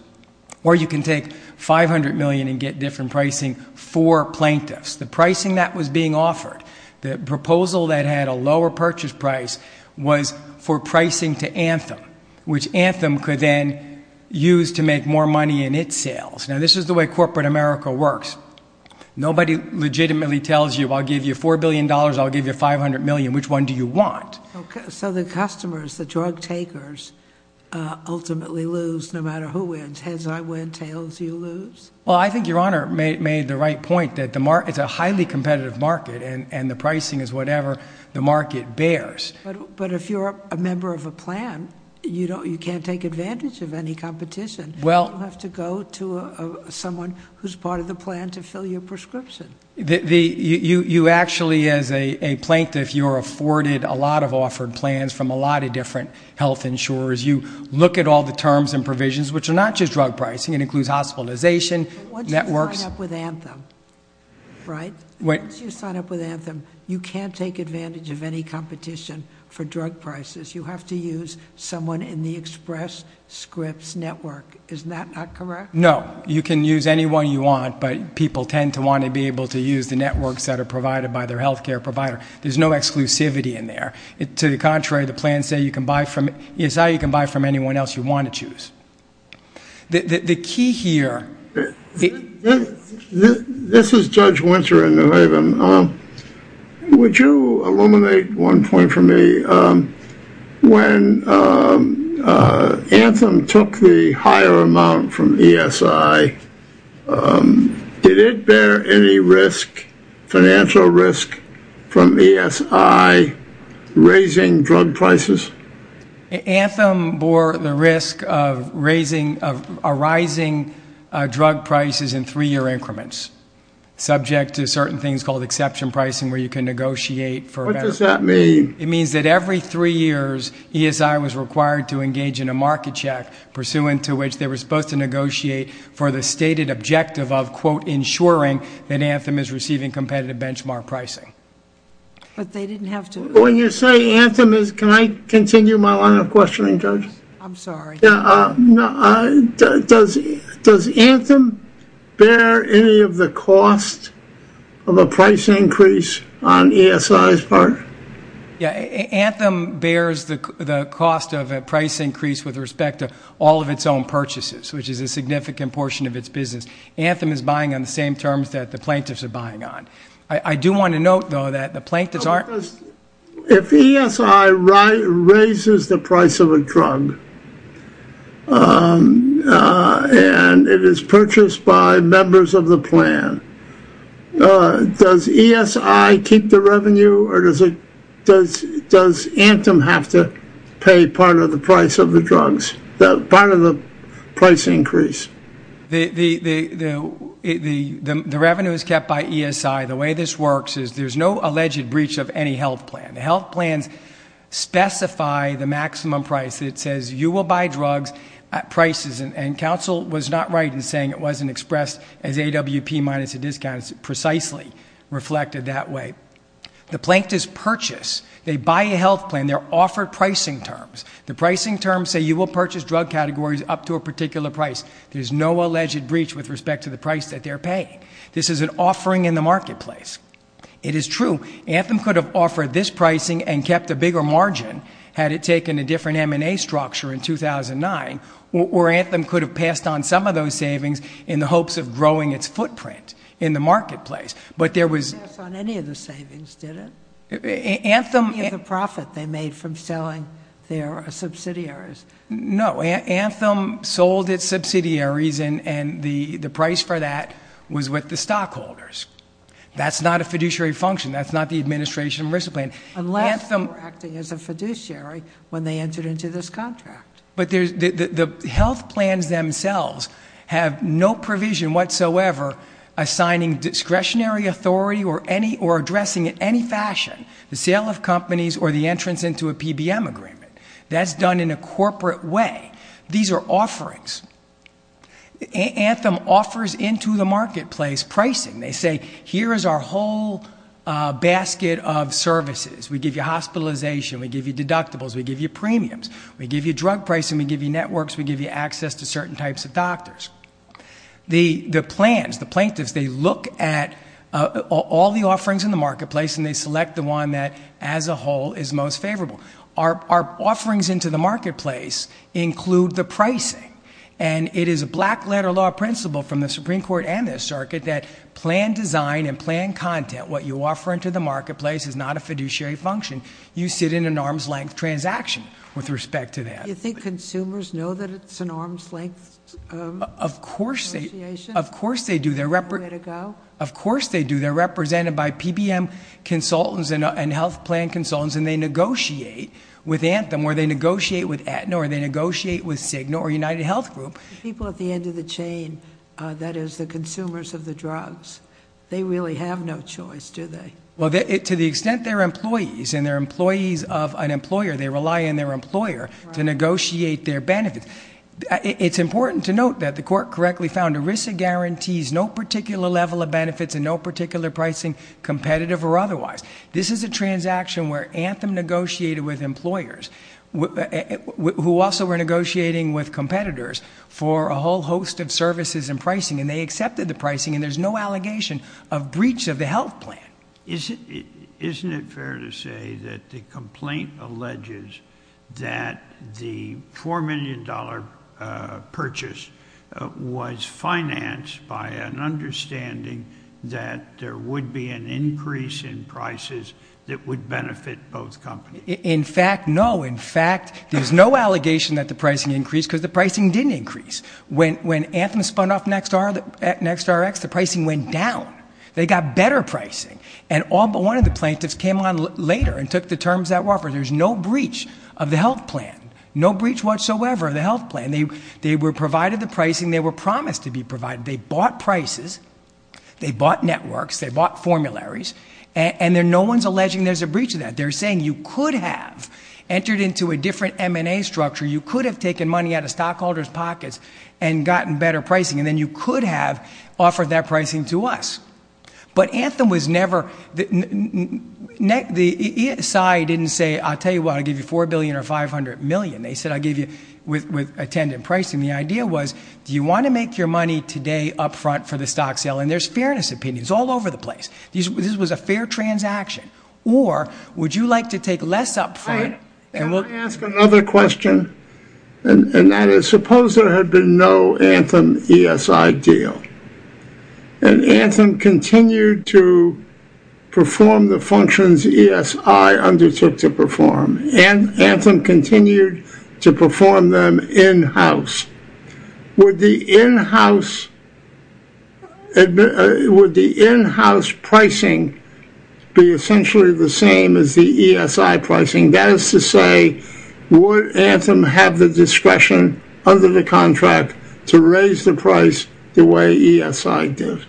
or you can take $500 million and get different pricing for plaintiffs. The pricing that was being offered, the proposal that had a lower purchase price, was for pricing to Anthem, which Anthem could then use to make more money in its sales. Now, this is the way corporate America works. Nobody legitimately tells you, I'll give you $4 billion, I'll give you $500 million. Which one do you want? Okay, so the customers, the drug takers, ultimately lose no matter who wins. Heads or tails, you lose? Well, I think your Honor made the right point that it's a highly competitive market, and the pricing is whatever the market bears. But if you're a member of a plan, you can't take advantage of any competition. You have to go to someone who's part of the plan to fill your prescription. You actually, as a plaintiff, you're afforded a lot of offered plans from a lot of different health insurers. You look at all the terms and provisions, which are not just drug pricing. It includes hospitalization, networks. Once you sign up with Anthem, right, once you sign up with Anthem, you can't take advantage of any competition for drug prices. You have to use someone in the Express Scripts network. Is that not correct? No. You can use anyone you want, but people tend to want to be able to use the networks that are provided by their health care provider. There's no exclusivity in there. To the contrary, the plans say you can buy from anyone else you want to choose. The key here. This is Judge Winter in New Haven. Would you illuminate one point for me? When Anthem took the higher amount from ESI, did it bear any risk, financial risk, from ESI raising drug prices? Anthem bore the risk of rising drug prices in three-year increments, subject to certain things called exception pricing, where you can negotiate. What does that mean? It means that every three years, ESI was required to engage in a market check, pursuant to which they were supposed to negotiate for the stated objective of, quote, ensuring that Anthem is receiving competitive benchmark pricing. But they didn't have to. When you say Anthem, can I continue my line of questioning, Judge? I'm sorry. Does Anthem bear any of the cost of a price increase on ESI's part? Anthem bears the cost of a price increase with respect to all of its own purchases, which is a significant portion of its business. Anthem is buying on the same terms that the plaintiffs are buying on. I do want to note, though, that the plaintiffs aren't- If ESI raises the price of a drug, and it is purchased by members of the plan, does ESI keep the revenue, or does Anthem have to pay part of the price of the drugs, part of the price increase? The revenue is kept by ESI. The way this works is there's no alleged breach of any health plan. The health plans specify the maximum price. It says you will buy drugs at prices, and counsel was not right in saying it wasn't expressed as AWP minus a discount. It's precisely reflected that way. The plaintiffs purchase. They buy a health plan. They're offered pricing terms. The pricing terms say you will purchase drug categories up to a particular price. There's no alleged breach with respect to the price that they're paying. This is an offering in the marketplace. It is true. Anthem could have offered this pricing and kept a bigger margin had it taken a different M&A structure in 2009, or Anthem could have passed on some of those savings in the hopes of growing its footprint in the marketplace. But there was- It didn't pass on any of the savings, did it? The profit they made from selling their subsidiaries. No. Anthem sold its subsidiaries, and the price for that was with the stockholders. That's not a fiduciary function. That's not the administration's risk plan. Unless they were acting as a fiduciary when they entered into this contract. The health plans themselves have no provision whatsoever assigning discretionary authority or addressing in any fashion the sale of companies or the entrance into a PBM agreement. That's done in a corporate way. These are offerings. Anthem offers into the marketplace pricing. They say, here is our whole basket of services. We give you hospitalization. We give you deductibles. We give you premiums. We give you drug pricing. We give you networks. We give you access to certain types of doctors. The plans, the plaintiffs, they look at all the offerings in the marketplace, and they select the one that, as a whole, is most favorable. Our offerings into the marketplace include the pricing, and it is a black letter law principle from the Supreme Court and this circuit that plan design and plan content. What you offer into the marketplace is not a fiduciary function. You sit in an arm's-length transaction with respect to that. Do you think consumers know that it's an arm's-length negotiation? Of course they do. Is there a way to go? Of course they do. They're represented by PBM consultants and health plan consultants, and they negotiate with Anthem or they negotiate with Aetna or they negotiate with Cigna or UnitedHealth Group. The people at the end of the chain, that is the consumers of the drugs, they really have no choice, do they? Well, to the extent they're employees and they're employees of an employer, they rely on their employer to negotiate their benefits. It's important to note that the court correctly found ERISA guarantees no particular level of benefits and no particular pricing, competitive or otherwise. This is a transaction where Anthem negotiated with employers who also were negotiating with competitors for a whole host of services and pricing, and they accepted the pricing, and there's no allegation of breach of the health plan. Isn't it fair to say that the complaint alleges that the $4 million purchase was financed by an understanding that there would be an increase in prices that would benefit both companies? In fact, no. In fact, there's no allegation that the pricing increased because the pricing didn't increase. When Anthem spun up NextRx, the pricing went down. They got better pricing, and one of the plaintiffs came on later and took the terms that were offered. There's no breach of the health plan, no breach whatsoever of the health plan. They were provided the pricing. They were promised to be provided. They bought prices. They bought networks. They bought formularies, and no one's alleging there's a breach of that. They're saying you could have entered into a different M&A structure. You could have taken money out of stockholders' pockets and gotten better pricing, and then you could have offered that pricing to us. But Anthem was never – the side didn't say, I'll tell you what, I'll give you $4 billion or $500 million. They said, I'll give you with attendant pricing. The idea was, do you want to make your money today up front for the stock sale? And there's fairness opinions all over the place. This was a fair transaction, or would you like to take less up front? I'll ask another question, and that is, suppose there had been no Anthem ESI deal, and Anthem continued to perform the functions ESI undertook to perform, and Anthem continued to perform them in-house. Would the in-house pricing be essentially the same as the ESI pricing? That is to say, would Anthem have the discretion under the contract to raise the price the way ESI did?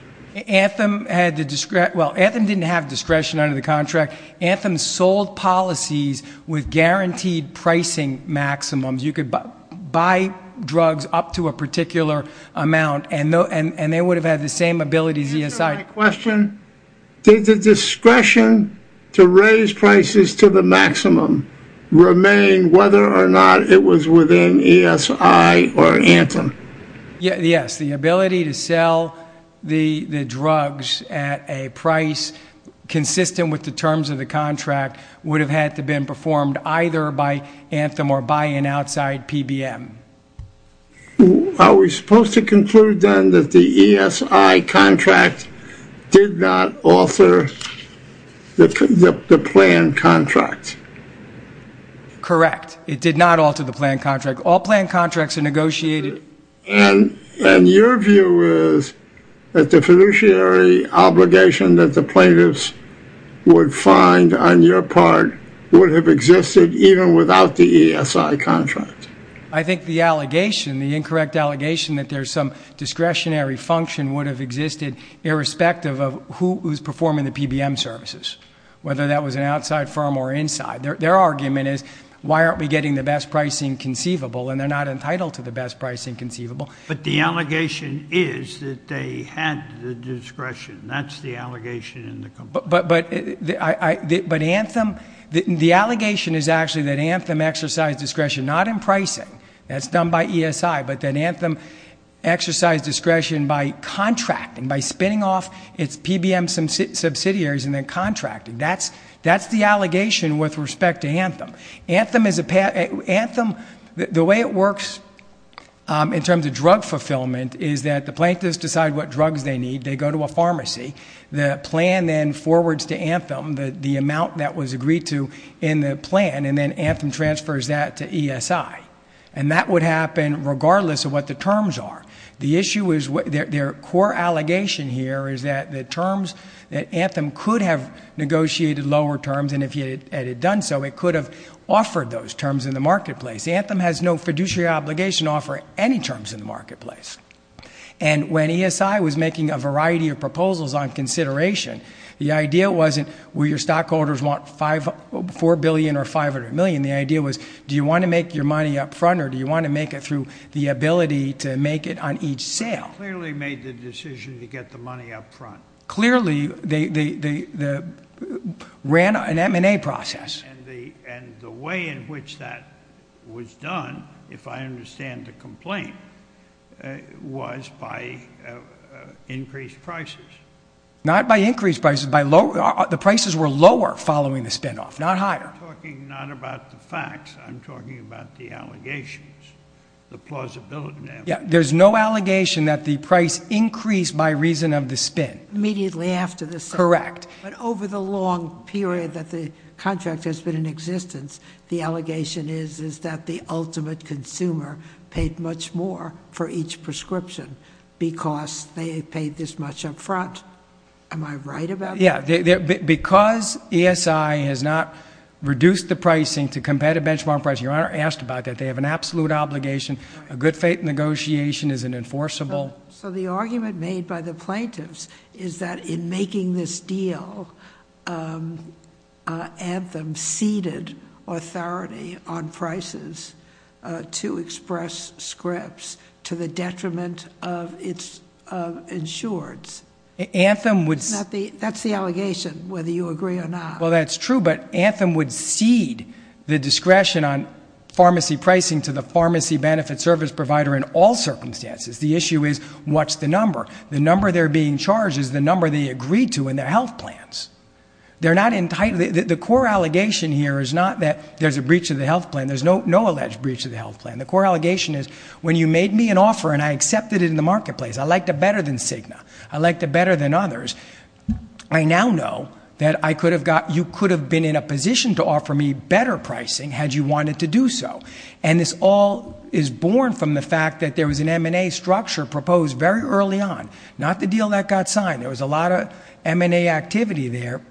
Anthem had the – well, Anthem didn't have discretion under the contract. Anthem sold policies with guaranteed pricing maximums. You could buy drugs up to a particular amount, and they would have had the same ability as ESI. Did the discretion to raise prices to the maximum remain whether or not it was within ESI or Anthem? Yes. The ability to sell the drugs at a price consistent with the terms of the contract would have had to have been performed either by Anthem or by an outside PBM. Are we supposed to conclude, then, that the ESI contract did not alter the planned contract? Correct. It did not alter the planned contract. All planned contracts are negotiated. And your view is that the fiduciary obligation that the plaintiffs would find on your part would have existed even without the ESI contract? I think the allegation, the incorrect allegation that there's some discretionary function would have existed irrespective of who's performing the PBM services, whether that was an outside firm or inside. Their argument is, why aren't we getting the best pricing conceivable? And they're not entitled to the best pricing conceivable. But the allegation is that they had the discretion. That's the allegation in the complaint. But Anthem, the allegation is actually that Anthem exercised discretion, not in pricing. That's done by ESI, but that Anthem exercised discretion by contracting, by spinning off its PBM subsidiaries and then contracting. That's the allegation with respect to Anthem. Anthem, the way it works in terms of drug fulfillment is that the plaintiffs decide what drugs they need. They go to a pharmacy. The plan then forwards to Anthem the amount that was agreed to in the plan and then Anthem transfers that to ESI. And that would happen regardless of what the terms are. The issue is, their core allegation here is that the terms, that Anthem could have negotiated lower terms and if it had done so, it could have offered those terms in the marketplace. Anthem has no fiduciary obligation to offer any terms in the marketplace. And when ESI was making a variety of proposals on consideration, the idea wasn't, will your stockholders want $4 billion or $500 million? The idea was, do you want to make your money up front or do you want to make it through the ability to make it on each sale? They clearly made the decision to get the money up front. Clearly, they ran an M&A process. And the way in which that was done, if I understand the complaint, was by increased prices. Not by increased prices. The prices were lower following the spinoff, not higher. I'm talking not about the facts. I'm talking about the allegations, the plausibility. There's no allegation that the price increased by reason of the spin. Immediately after the spin. Correct. But over the long period that the contract has been in existence, the allegation is that the ultimate consumer paid much more for each prescription because they had paid this much up front. Am I right about that? Yeah. Because ESI has not reduced the pricing to competitive benchmark pricing, your Honor asked about that, they have an absolute obligation. A good faith negotiation is an enforceable. So the argument made by the plaintiffs is that in making this deal, Anthem ceded authority on prices to express scripts to the detriment of its insureds. That's the allegation, whether you agree or not. Well, that's true, but Anthem would cede the discretion on pharmacy pricing to the pharmacy benefit service provider in all circumstances. The issue is what's the number. The number they're being charged is the number they agreed to in their health plans. The core allegation here is not that there's a breach of the health plan. There's no alleged breach of the health plan. The core allegation is when you made me an offer and I accepted it in the marketplace, I liked it better than Sigma, I liked it better than others, I now know that you could have been in a position to offer me better pricing had you wanted to do so. And this all is born from the fact that there was an M&A structure proposed very early on, not the deal that got signed. There was a lot of M&A activity there,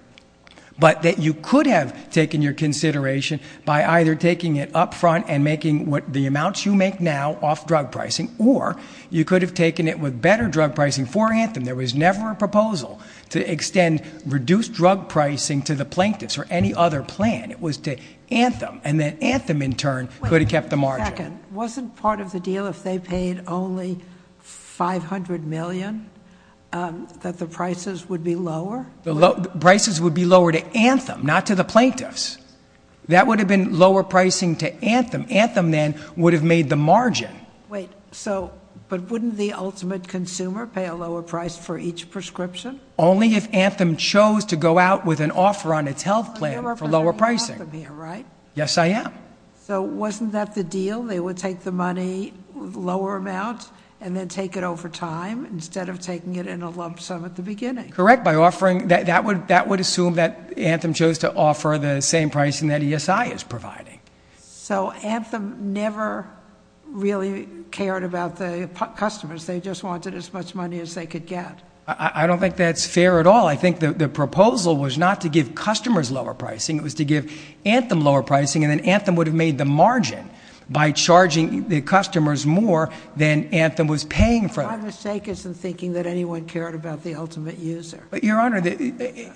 but that you could have taken your consideration by either taking it up front and making the amounts you make now off drug pricing, or you could have taken it with better drug pricing for Anthem. There was never a proposal to extend reduced drug pricing to the plaintiffs or any other plan. It was to Anthem. And then Anthem, in turn, could have kept the margin. Wait a second. Wasn't part of the deal if they paid only $500 million that the prices would be lower? The prices would be lower to Anthem, not to the plaintiffs. That would have been lower pricing to Anthem. Anthem then would have made the margin. Wait. But wouldn't the ultimate consumer pay a lower price for each prescription? Only if Anthem chose to go out with an offer on its health plan for lower pricing. Yes, I am. So wasn't that the deal? They would take the money, lower amounts, and then take it over time instead of taking it in a lump sum at the beginning? Correct. That would assume that Anthem chose to offer the same pricing that ESI is providing. So Anthem never really cared about the customers. They just wanted as much money as they could get. I don't think that's fair at all. I think the proposal was not to give customers lower pricing. It was to give Anthem lower pricing, and then Anthem would have made the margin by charging the customers more than Anthem was paying for. My mistake is in thinking that anyone cared about the ultimate user. Your Honor.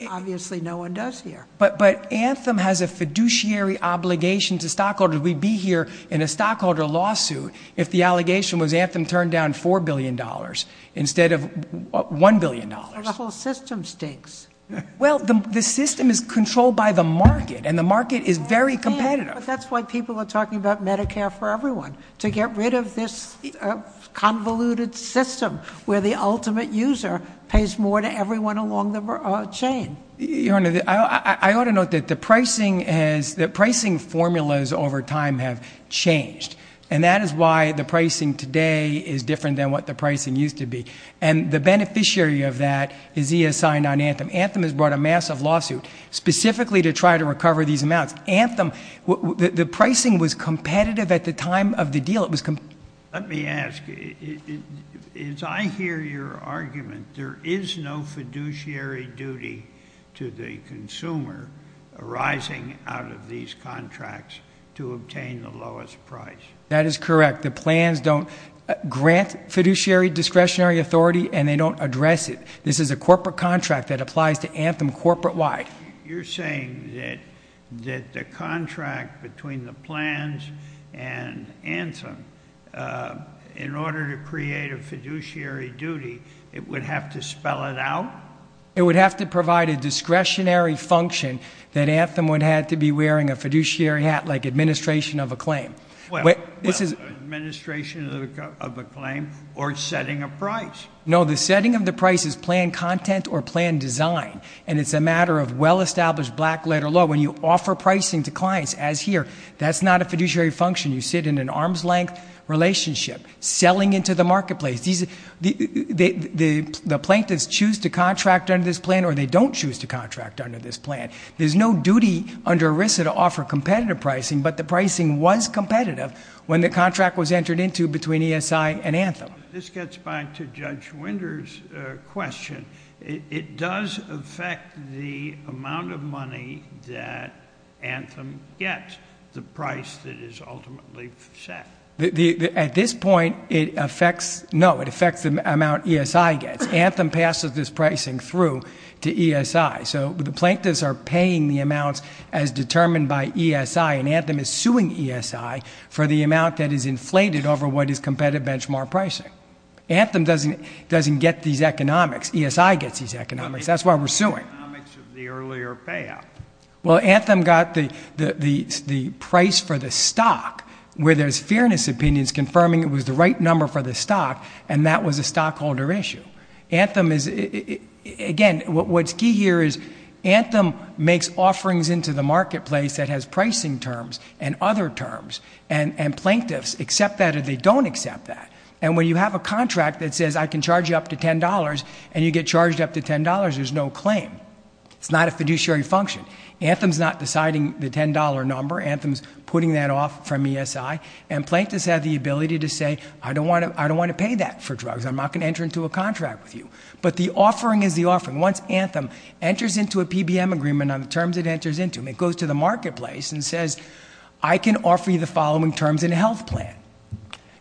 Obviously no one does here. But Anthem has a fiduciary obligation to stockholders. We'd be here in a stockholder lawsuit if the allegation was Anthem turned down $4 billion instead of $1 billion. And the whole system stinks. Well, the system is controlled by the market, and the market is very competitive. That's why people are talking about Medicare for Everyone, to get rid of this convoluted system where the ultimate user pays more to everyone along the chain. Your Honor, I ought to note that the pricing formulas over time have changed, and that is why the pricing today is different than what the pricing used to be. And the beneficiary of that is ESI, not Anthem. Anthem has brought a massive lawsuit specifically to try to recover these amounts. Anthem, the pricing was competitive at the time of the deal. Let me ask, as I hear your argument, there is no fiduciary duty to the consumer arising out of these contracts to obtain the lowest price. That is correct. The plans don't grant fiduciary discretionary authority, and they don't address it. This is a corporate contract that applies to Anthem corporate-wide. You're saying that the contract between the plans and Anthem, in order to create a fiduciary duty, it would have to spell it out? It would have to provide a discretionary function that Anthem would have to be wearing a fiduciary hat like administration of a claim. Administration of a claim or setting a price. No, the setting of the price is plan content or plan design, and it's a matter of well-established black-letter law. When you offer pricing to clients, as here, that's not a fiduciary function. You sit in an arm's-length relationship, selling into the marketplace. The plaintiffs choose to contract under this plan, or they don't choose to contract under this plan. There's no duty under ERISA to offer competitive pricing, but the pricing was competitive when the contract was entered into between ESI and Anthem. This gets back to Judge Winder's question. It does affect the amount of money that Anthem gets, the price that is ultimately set. At this point, no, it affects the amount ESI gets. Anthem passes this pricing through to ESI. So the plaintiffs are paying the amount as determined by ESI, and Anthem is suing ESI for the amount that is inflated over what is competitive benchmark pricing. Anthem doesn't get these economics. ESI gets these economics. That's why we're suing. Well, Anthem got the price for the stock, where there's fairness opinions confirming it was the right number for the stock, and that was a stockholder issue. Again, what's key here is Anthem makes offerings into the marketplace that has pricing terms and other terms, and plaintiffs accept that or they don't accept that. And when you have a contract that says I can charge you up to $10 and you get charged up to $10, there's no claim. It's not a fiduciary function. Anthem's not deciding the $10 number. Anthem's putting that off from ESI, and plaintiffs have the ability to say I don't want to pay that for drugs. I'm not going to enter into a contract with you. But the offering is the offering. Once Anthem enters into a PBM agreement on the terms it enters into, it goes to the marketplace and says I can offer you the following terms in a health plan.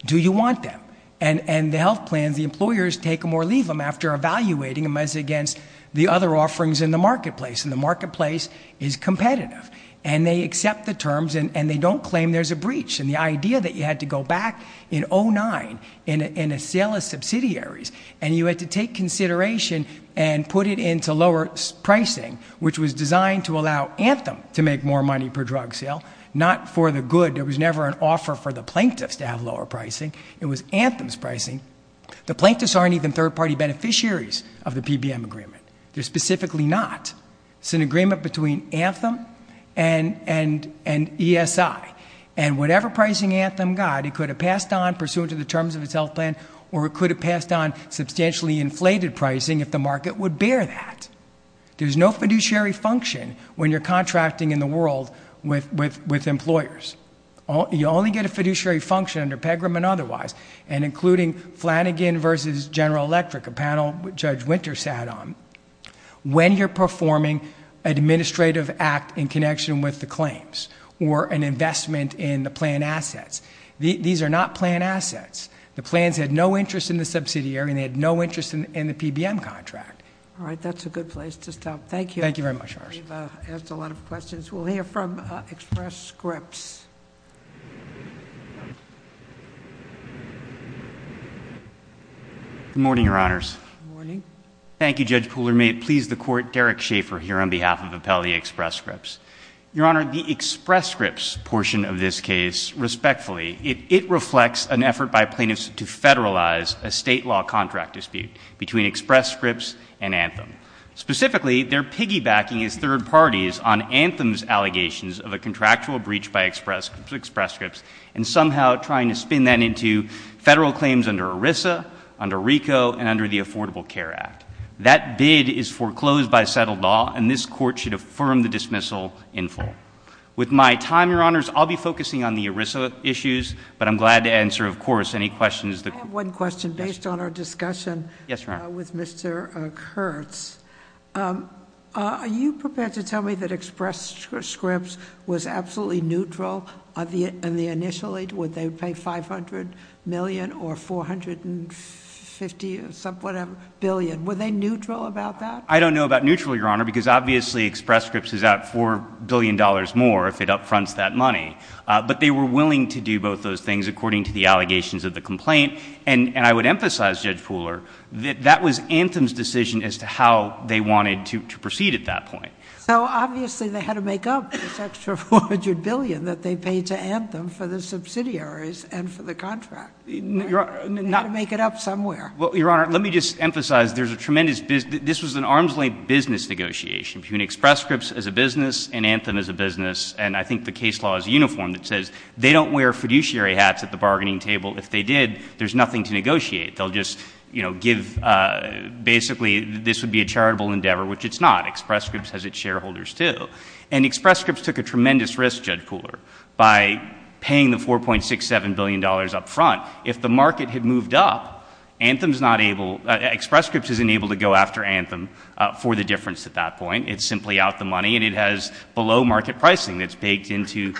Do you want that? And the health plan, the employers take them or leave them after evaluating them as against the other offerings in the marketplace, and the marketplace is competitive, and they accept the terms and they don't claim there's a breach. The idea that you had to go back in 2009 in a sale of subsidiaries and you had to take consideration and put it into lower pricing, which was designed to allow Anthem to make more money per drug sale, not for the good. There was never an offer for the plaintiffs to have lower pricing. It was Anthem's pricing. The plaintiffs aren't even third-party beneficiaries of the PBM agreement. They're specifically not. It's an agreement between Anthem and ESI. And whatever pricing Anthem got, it could have passed on pursuant to the terms of its health plan, or it could have passed on substantially inflated pricing if the market would bear that. There's no fiduciary function when you're contracting in the world with employers. You only get a fiduciary function under PEGRAM and otherwise, and including Flanagan versus General Electric, a panel Judge Winter sat on, when you're performing an administrative act in connection with the claims or an investment in the plan assets. These are not plan assets. The plans had no interest in the subsidiary and they had no interest in the PBM contract. All right, that's a good place to stop. Thank you. Thank you very much, Marsha. We've asked a lot of questions. We'll hear from Express Scripts. Good morning, Your Honors. Good morning. Thank you, Judge Pooler. May it please the Court, Derek Schaefer here on behalf of Appellee Express Scripts. Your Honor, the Express Scripts portion of this case, respectfully, it reflects an effort by plaintiffs to federalize a state law contract dispute between Express Scripts and Anthem. Specifically, they're piggybacking as third parties on Anthem's allegations of a contractual breach by Express Scripts and somehow trying to spin that into federal claims under ERISA, under RICO, and under the Affordable Care Act. That bid is foreclosed by settled law and this Court should affirm the dismissal in full. With my time, Your Honors, I'll be focusing on the ERISA issues, but I'm glad to answer, of course, any questions. I have one question based on our discussion with Mr. Kurtz. Are you prepared to tell me that Express Scripts was absolutely neutral in the initial aid? Would they pay $500 million or $450 billion? Were they neutral about that? I don't know about neutral, Your Honor, because obviously Express Scripts is at $4 billion more if it upfronts that money. But they were willing to do both those things according to the allegations of the complaint. And I would emphasize, Judge Pooler, that that was Anthem's decision as to how they wanted to proceed at that point. Well, obviously, they had to make up this extra $400 billion that they paid to Anthem for the subsidiaries and for the contract. They had to make it up somewhere. Well, Your Honor, let me just emphasize, this was an arm's-length business negotiation between Express Scripts as a business and Anthem as a business, and I think the case law is uniform. It says they don't wear fiduciary hats at the bargaining table. If they did, there's nothing to negotiate. They'll just give basically this would be a charitable endeavor, which it's not. Express Scripts has its shareholders, too. And Express Scripts took a tremendous risk, Judge Pooler, by paying the $4.67 billion up front. If the market had moved up, Express Scripts isn't able to go after Anthem for the difference at that point. It's simply out the money, and it has below-market pricing that's baked into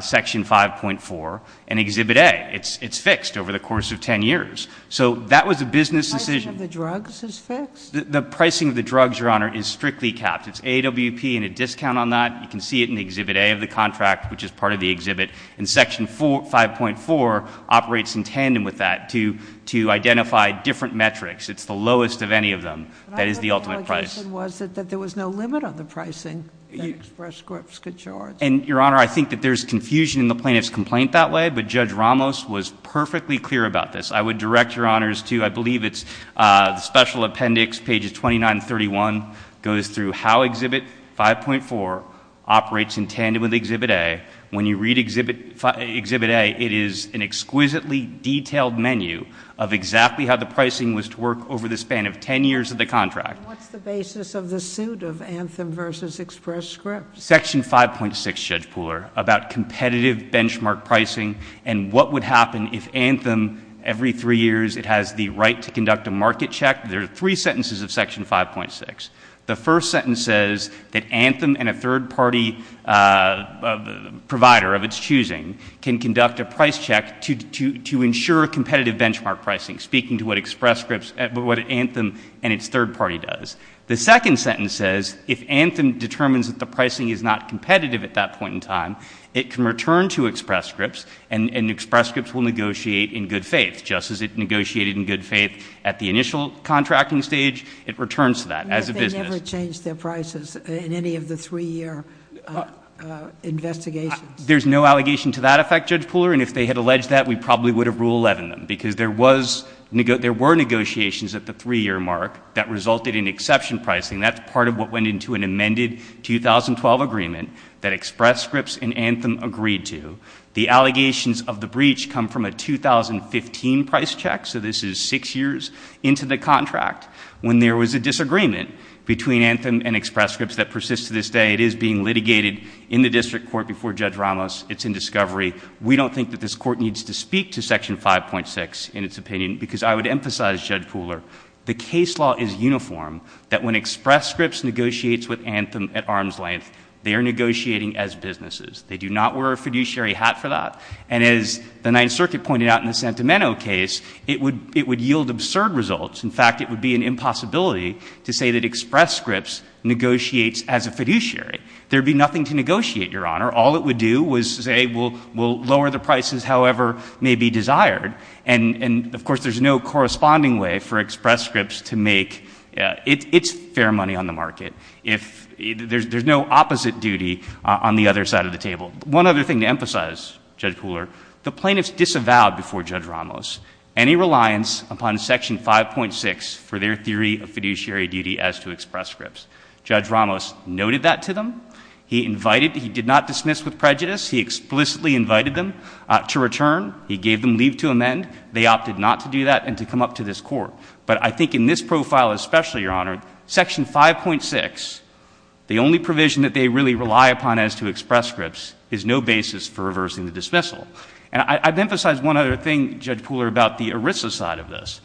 Section 5.4 and Exhibit A. It's fixed over the course of 10 years. So that was a business decision. The pricing of the drugs is fixed? The pricing of the drugs, Your Honor, is strictly capped. It's AWP and a discount on that. You can see it in Exhibit A of the contract, which is part of the exhibit. And Section 5.4 operates in tandem with that to identify different metrics. It's the lowest of any of them. That is the ultimate price. But I think the implication was that there was no limit on the pricing that Express Scripts could charge. And, Your Honor, I think that there's confusion in the plaintiff's complaint that way, but Judge Ramos was perfectly clear about this. I would direct Your Honors to, I believe it's Special Appendix, pages 29 and 31, goes through how Exhibit 5.4 operates in tandem with Exhibit A. When you read Exhibit A, it is an exquisitely detailed menu of exactly how the pricing was to work over the span of 10 years of the contract. What's the basis of the suit of Anthem v. Express Scripts? Section 5.6, Judge Pooler, about competitive benchmark pricing and what would happen if Anthem, every three years, it has the right to conduct a market check. There are three sentences of Section 5.6. The first sentence says that Anthem and a third party provider of its choosing can conduct a price check to ensure competitive benchmark pricing, speaking to what Anthem and its third party does. The second sentence says if Anthem determines that the pricing is not competitive at that point in time, it can return to Express Scripts and Express Scripts will negotiate in good faith. Just as it negotiated in good faith at the initial contracting stage, it returns to that as a business. But they never changed their prices in any of the three-year investigations. There's no allegation to that effect, Judge Pooler, and if they had alleged that, we probably would have ruled 11 of them because there were negotiations at the three-year mark that resulted in exception pricing. That's part of what went into an amended 2012 agreement that Express Scripts and Anthem agreed to. The allegations of the breach come from a 2015 price check, so this is six years into the contract. When there was a disagreement between Anthem and Express Scripts that persists to this day, it is being litigated in the district court before Judge Ramos. It's in discovery. We don't think that this court needs to speak to Section 5.6 in its opinion because I would emphasize, Judge Pooler, the case law is uniform that when Express Scripts negotiates with Anthem at arm's length, they are negotiating as businesses. They do not wear a fiduciary hat for that, and as the Ninth Circuit pointed out in the Santameno case, it would yield absurd results. In fact, it would be an impossibility to say that Express Scripts negotiates as a fiduciary. There would be nothing to negotiate, Your Honor. All it would do was say we'll lower the prices however may be desired, and, of course, there's no corresponding way for Express Scripts to make its fair money on the market. There's no opposite duty on the other side of the table. One other thing to emphasize, Judge Pooler, the plaintiffs disavowed before Judge Ramos any reliance upon Section 5.6 for their theory of fiduciary duty as to Express Scripts. Judge Ramos noted that to them. He invited, he did not dismiss with prejudice. He explicitly invited them to return. He gave them leave to amend. They opted not to do that and to come up to this Court. But I think in this profile especially, Your Honor, Section 5.6, the only provision that they really rely upon as to Express Scripts is no basis for reversing the dismissal. And I've emphasized one other thing, Judge Pooler, about the ERISA side of this.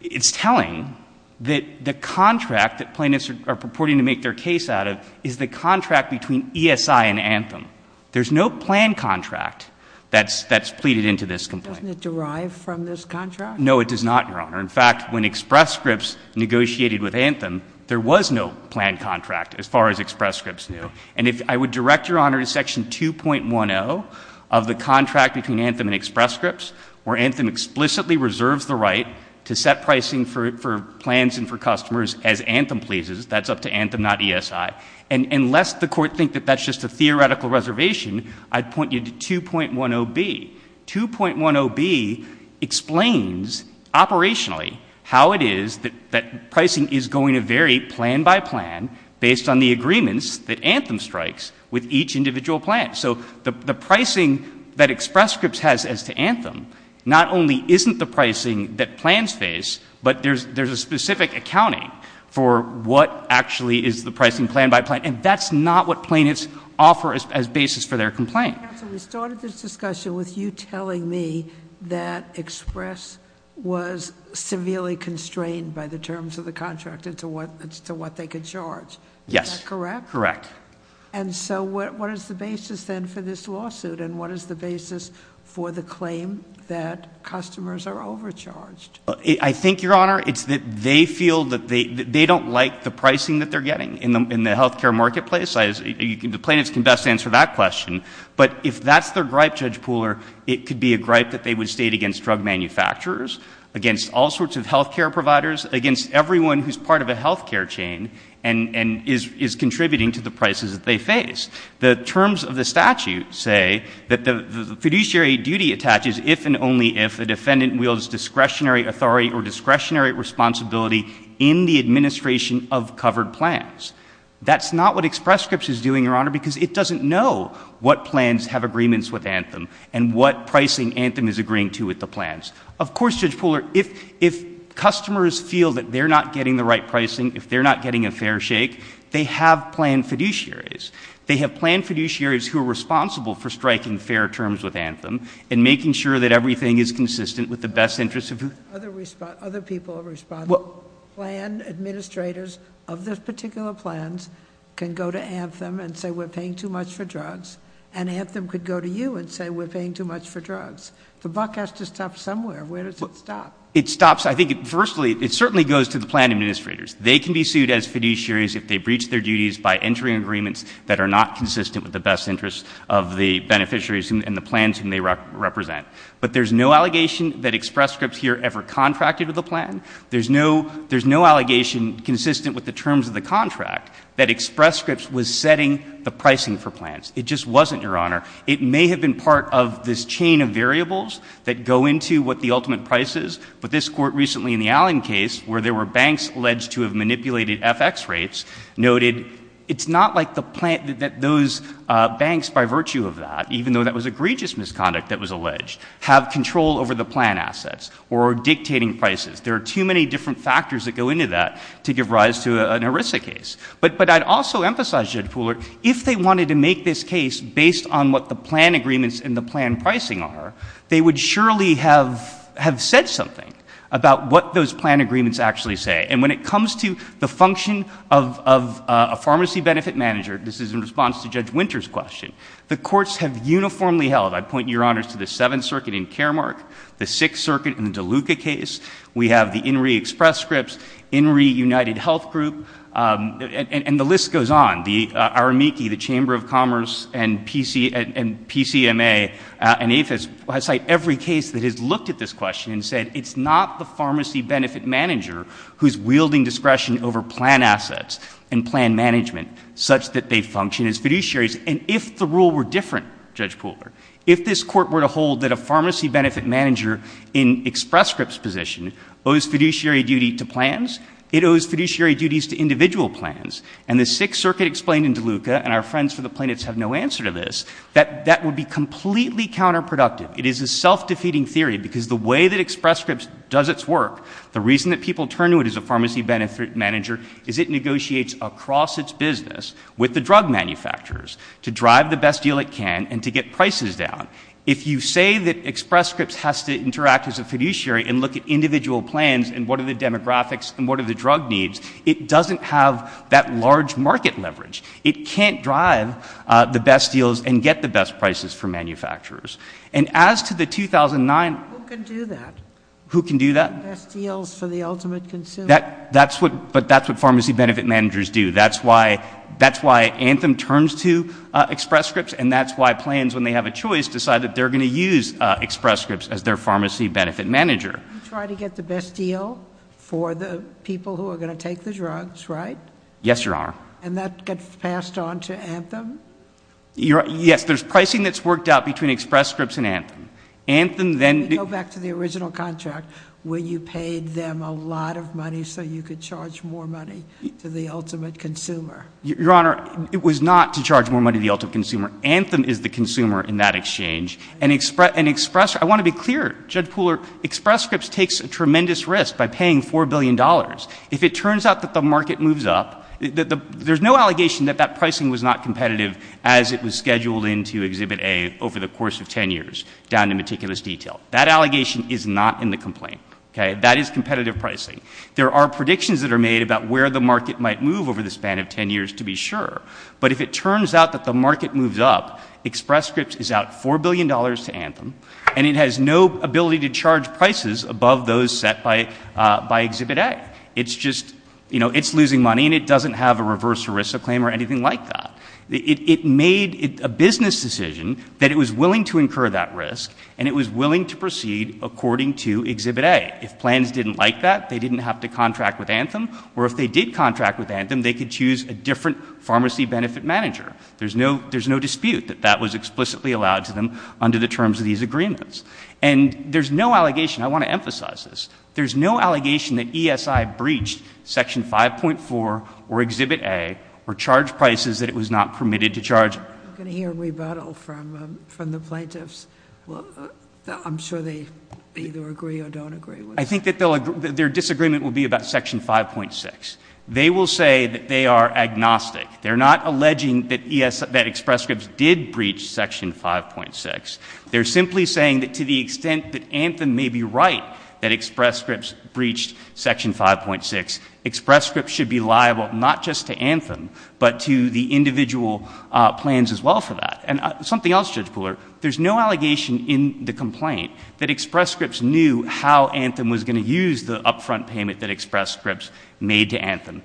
It's telling that the contract that plaintiffs are purporting to make their case out of is the contract between ESI and Anthem. There's no plan contract that's pleaded into this complaint. Doesn't it derive from this contract? No, it does not, Your Honor. In fact, when Express Scripts negotiated with Anthem, there was no plan contract as far as Express Scripts knew. And I would direct Your Honor to Section 2.10 of the contract between Anthem and Express Scripts, where Anthem explicitly reserves the right to set pricing for plans and for customers as Anthem pleases. That's up to Anthem, not ESI. And lest the Court think that that's just a theoretical reservation, I'd point you to 2.10b. 2.10b explains operationally how it is that pricing is going to vary plan by plan based on the agreements that Anthem strikes with each individual plan. So the pricing that Express Scripts has as to Anthem not only isn't the pricing that plans face, but there's a specific accounting for what actually is the pricing plan by plan. And that's not what plaintiffs offer as basis for their complaint. Counsel, we started this discussion with you telling me that Express was severely constrained by the terms of the contract as to what they could charge. Yes. Is that correct? Correct. And so what is the basis then for this lawsuit, and what is the basis for the claim that customers are overcharged? I think, Your Honor, it's that they feel that they don't like the pricing that they're getting in the health care marketplace. The plaintiffs can best answer that question. But if that's their gripe, Judge Pooler, it could be a gripe that they would state against drug manufacturers, against all sorts of health care providers, against everyone who's part of a health care chain and is contributing to the prices that they face. The terms of the statute say that the fiduciary duty attaches if and only if a defendant wields discretionary authority or discretionary responsibility in the administration of covered plans. That's not what Express Scripts is doing, Your Honor, because it doesn't know what plans have agreements with Anthem and what pricing Anthem is agreeing to with the plans. Of course, Judge Pooler, if customers feel that they're not getting the right pricing, if they're not getting a fair shake, they have planned fiduciaries. They have planned fiduciaries who are responsible for striking fair terms with Anthem and making sure that everything is consistent with the best interests of... Other people have responded. Plan administrators of those particular plans can go to Anthem and say, we're paying too much for drugs, and Anthem could go to you and say, we're paying too much for drugs. If a buck has to stop somewhere, where does it stop? It stops, I think, firstly, it certainly goes to the plan administrators. They can be sued as fiduciaries if they breach their duties by entry agreements that are not consistent with the best interests of the beneficiaries and the plans they represent. But there's no allegation that Express Scripts here ever contracted with a plan. There's no allegation consistent with the terms of the contract that Express Scripts was setting the pricing for plans. It just wasn't, Your Honor. It may have been part of this chain of variables that go into what the ultimate price is, but this court recently in the Allen case, where there were banks alleged to have manipulated FX rates, noted it's not like those banks, by virtue of that, even though that was egregious misconduct that was alleged, have control over the plan assets or dictating prices. There are too many different factors that go into that to give rise to an ERISA case. But I'd also emphasize, Jed Pooler, if they wanted to make this case based on what the plan agreements and the plan pricing are, they would surely have said something about what those plan agreements actually say. And when it comes to the function of a pharmacy benefit manager, this is in response to Judge Winter's question, the courts have uniformly held, I point you, Your Honor, to the Seventh Circuit in Karamark, the Sixth Circuit in the DeLuca case. We have the INRI Express Scripts, INRI United Health Group, and the list goes on. The Aramiki, the Chamber of Commerce, and PCMA, and APHIS, I cite every case that has looked at this question and said it's not the pharmacy benefit manager who's wielding discretion over plan assets and plan management such that they function as fiduciaries. And if the rule were different, Judge Pooler, if this Court were to hold that a pharmacy benefit manager in Express Scripts' position owes fiduciary duty to plans, it owes fiduciary duties to individual plans, and the Sixth Circuit explained in DeLuca, and our friends for the plaintiffs have no answer to this, that that would be completely counterproductive. It is a self-defeating theory because the way that Express Scripts does its work, the reason that people turn to it as a pharmacy benefit manager is it negotiates across its business with the drug manufacturers to drive the best deal it can and to get prices down. If you say that Express Scripts has to interact as a fiduciary and look at individual plans and what are the demographics and what are the drug needs, it doesn't have that large market leverage. It can't drive the best deals and get the best prices from manufacturers. And as to the 2009... Who can do that? Who can do that? Best deals for the ultimate consumer. But that's what pharmacy benefit managers do. That's why Anthem turns to Express Scripts, and that's why plans, when they have a choice, decide that they're going to use Express Scripts as their pharmacy benefit manager. You try to get the best deal for the people who are going to take the drugs, right? Yes, Your Honor. And that gets passed on to Anthem? Yes, there's pricing that's worked out between Express Scripts and Anthem. You go back to the original contract where you paid them a lot of money so you could charge more money to the ultimate consumer. Your Honor, it was not to charge more money to the ultimate consumer. Anthem is the consumer in that exchange. And Express... I want to be clear. Express Scripts takes a tremendous risk by paying $4 billion. If it turns out that the market moves up... There's no allegation that that pricing was not competitive as it was scheduled into Exhibit A over the course of 10 years, down to meticulous detail. That allegation is not in the complaint. That is competitive pricing. There are predictions that are made about where the market might move over the span of 10 years, to be sure. But if it turns out that the market moves up, Express Scripts is out $4 billion to Anthem, and it has no ability to charge prices above those set by Exhibit A. It's losing money, and it doesn't have a reverse ERISA claim or anything like that. It made a business decision that it was willing to incur that risk, and it was willing to proceed according to Exhibit A. If plans didn't like that, they didn't have to contract with Anthem, or if they did contract with Anthem, they could choose a different pharmacy benefit manager. There's no dispute that that was explicitly allowed to them under the terms of these agreements. And there's no allegation, I want to emphasize this, there's no allegation that ESI breached Section 5.4 or Exhibit A, or charged prices that it was not permitted to charge. I'm going to hear a rebuttal from the plaintiffs. I'm sure they either agree or don't agree. I think that their disagreement will be about Section 5.6. They will say that they are agnostic. They're not alleging that Express Scripts did breach Section 5.6. They're simply saying that to the extent that Anthem may be right that Express Scripts breached Section 5.6, Express Scripts should be liable not just to Anthem, but to the individual plans as well for that. And something else, Judge Fuller, there's no allegation in the complaint that Express Scripts knew how Anthem was going to use the upfront payment that Express Scripts made to Anthem.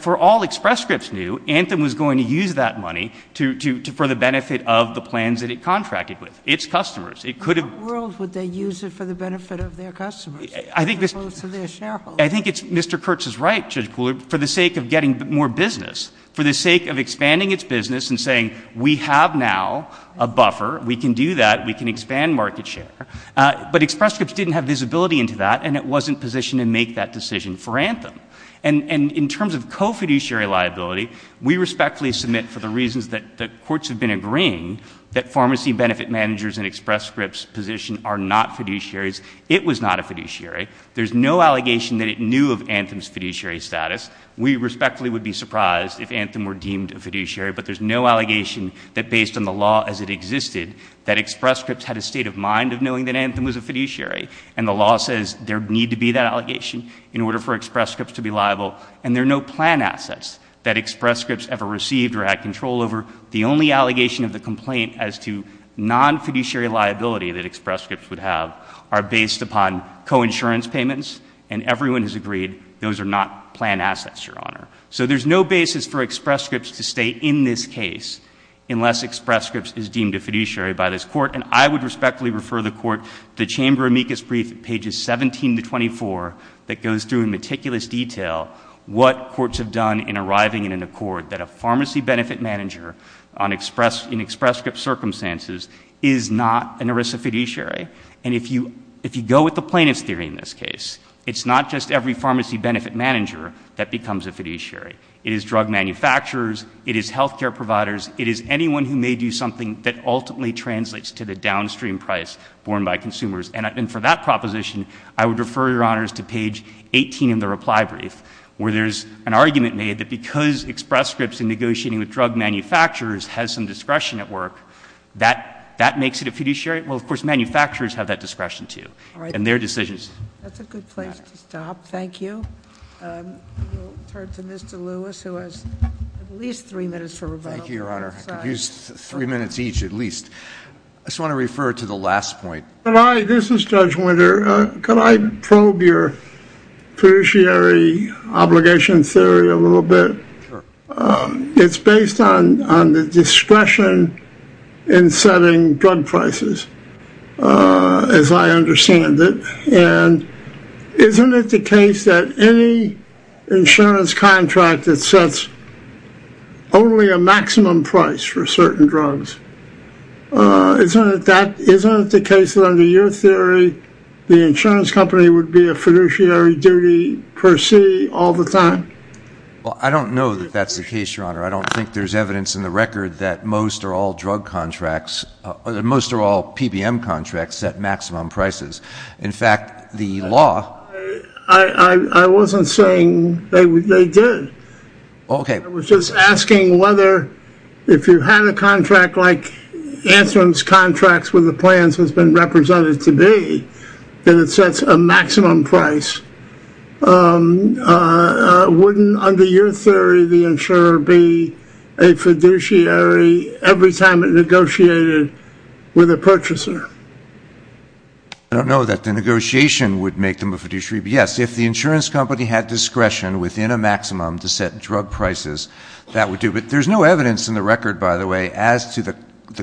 For all Express Scripts knew, Anthem was going to use that money for the benefit of the plans that it contracted with, its customers. How in the world would they use it for the benefit of their customers? I think Mr. Kurtz is right, Judge Fuller, for the sake of getting more business, for the sake of expanding its business and saying we have now a buffer, we can do that, we can expand market share. But Express Scripts didn't have visibility into that and it wasn't positioned to make that decision for Anthem. And in terms of co-fiduciary liability, we respectfully submit for the reasons that courts have been agreeing, that pharmacy benefit managers in Express Scripts' position are not fiduciaries. It was not a fiduciary. There's no allegation that it knew of Anthem's fiduciary status. We respectfully would be surprised if Anthem were deemed a fiduciary, but there's no allegation that based on the law as it existed, that Express Scripts had a state of mind of knowing that Anthem was a fiduciary. And the law says there need to be that allegation in order for Express Scripts to be liable. And there are no plan assets that Express Scripts ever received or had control over. The only allegation of the complaint as to non-fiduciary liability that Express Scripts would have are based upon co-insurance payments. And everyone has agreed those are not plan assets, Your Honor. So there's no basis for Express Scripts to stay in this case unless Express Scripts is deemed a fiduciary by this court. And I would respectfully refer the court to Chamber amicus brief pages 17 to 24 that goes through in meticulous detail what courts have done in arriving in an accord that a pharmacy benefit manager in Express Script circumstances is not an ERISA fiduciary. And if you go with the plaintiff's theory in this case, it's not just every pharmacy benefit manager that becomes a fiduciary. It is drug manufacturers. It is health care providers. It is anyone who may do something that ultimately translates to the downstream price borne by consumers. And for that proposition, I would refer, Your Honor, to page 18 in the reply brief where there's an argument made that because Express Scripts in negotiating with drug manufacturers has some discretion at work, that makes it a fiduciary. Well, of course, manufacturers have that discretion too in their decisions. All right. That's a good place to stop. Thank you. We'll refer it to Mr. Lewis, who has at least three minutes for rebuttal. Thank you, Your Honor. At least three minutes each, at least. I just want to refer to the last point. This is Judge Winter. Can I probe your fiduciary obligation theory a little bit? Sure. It's based on the discretion in setting drug prices, as I understand it. And isn't it the case that any insurance contract that sets only a maximum price for certain drugs, isn't it the case that under your theory, the insurance company would be a fiduciary duty per se all the time? Well, I don't know that that's the case, Your Honor. I don't think there's evidence in the record that most are all PBM contracts that maximum prices. In fact, the law... I wasn't saying they did. Okay. I was just asking whether if you had a contract like Antrim's contracts with the plans that's been represented today, and it sets a maximum price, wouldn't under your theory the insurer be a fiduciary every time it negotiated with a purchaser? I don't know that the negotiation would make them a fiduciary. Yes, if the insurance company had discretion within a maximum to set drug prices, that would do. But there's no evidence in the record, by the way, as to the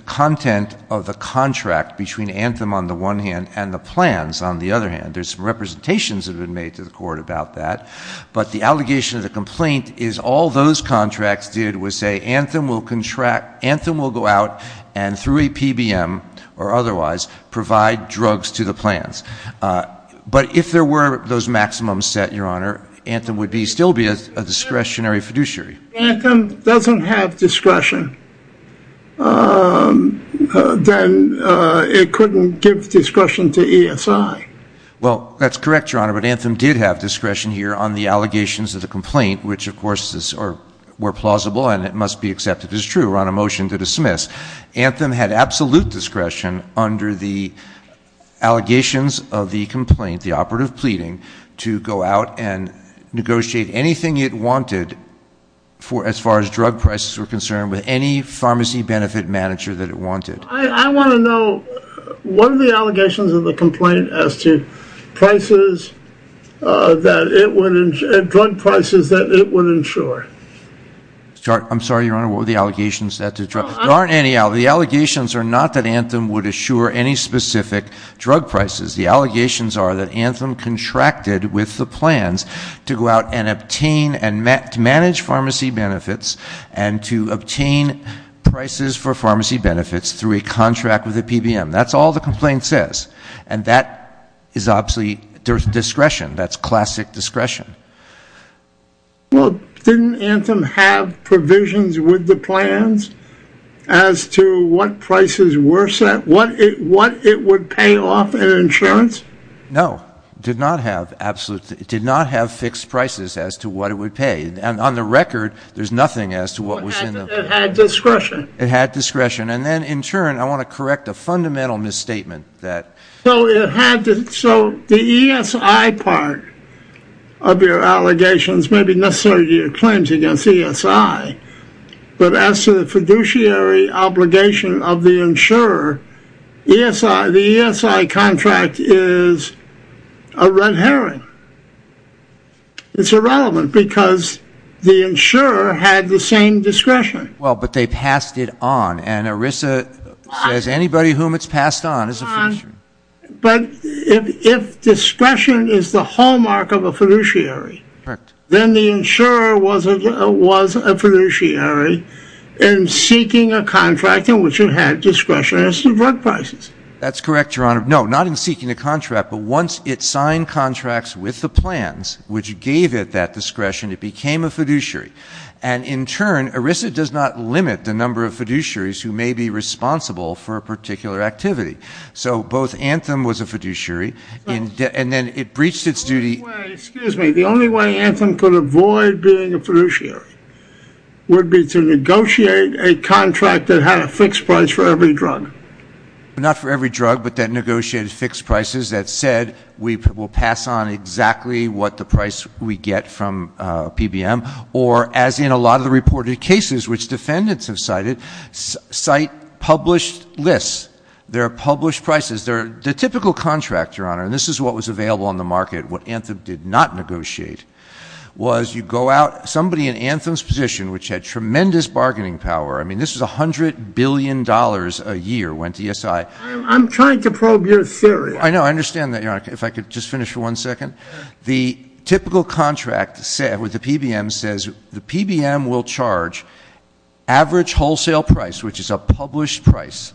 content of the contract between Antrim on the one hand and the plans on the other hand. There's representations that have been made to the court about that. But the allegation of the complaint is all those contracts did was say, Antrim will go out and through a PBM or otherwise provide drugs to the plans. But if there were those maximums set, Your Honor, Antrim would still be a discretionary fiduciary. If Antrim doesn't have discretion, then it couldn't give discretion to ESI. Well, that's correct, Your Honor, but Antrim did have discretion here on the allegations of the complaint, which, of course, were plausible and it must be accepted as true. We're on a motion to dismiss. Antrim had absolute discretion under the allegations of the complaint, the operative pleading, to go out and negotiate anything it wanted as far as drug prices were concerned with any pharmacy benefit manager that it wanted. I want to know what are the allegations of the complaint as to drug prices that it would insure? I'm sorry, Your Honor, what are the allegations? There aren't any. The allegations are not that Antrim would insure any specific drug prices. The allegations are that Antrim contracted with the plans to go out and obtain and manage pharmacy benefits and to obtain prices for pharmacy benefits through a contract with the PBM. That's all the complaint says. And that is obviously discretion. That's classic discretion. Well, didn't Antrim have provisions with the plans as to what prices were set, what it would pay off in insurance? No. It did not have fixed prices as to what it would pay. And on the record, there's nothing as to what was in them. It had discretion. It had discretion. And then, in turn, I want to correct a fundamental misstatement. So the ESI part of your allegations may be necessary to your claims against ESI, but as to the fiduciary obligation of the insurer, the ESI contract is a red herring. It's irrelevant because the insurer had the same discretion. Well, but they passed it on. And, Arisa, there's anybody whom it's passed on. But if discretion is the hallmark of a fiduciary, then the insurer was a fiduciary in seeking a contract in which it had discretion as to what prices. That's correct, Your Honor. No, not in seeking a contract, but once it signed contracts with the plans, which gave it that discretion, it became a fiduciary. And, in turn, Arisa does not limit the number of fiduciaries who may be responsible for a particular activity. So both Antrim was a fiduciary, and then it breached its duty. The only way Antrim could avoid being a fiduciary would be to negotiate a contract that had a fixed price for every drug. Not for every drug, but that negotiated fixed prices that said, we'll pass on exactly what the price we get from PBM. Or, as in a lot of the reported cases which defendants have cited, cite published lists. There are published prices. The typical contract, Your Honor, and this is what was available on the market, what Antrim did not negotiate, was you go out. Somebody in Antrim's position, which had tremendous bargaining power, I mean this was $100 billion a year, went to ESI. I'm trying to probe your theory. I know, I understand that, Your Honor. If I could just finish for one second. The typical contract said, or the PBM says, the PBM will charge average wholesale price, which is a published price,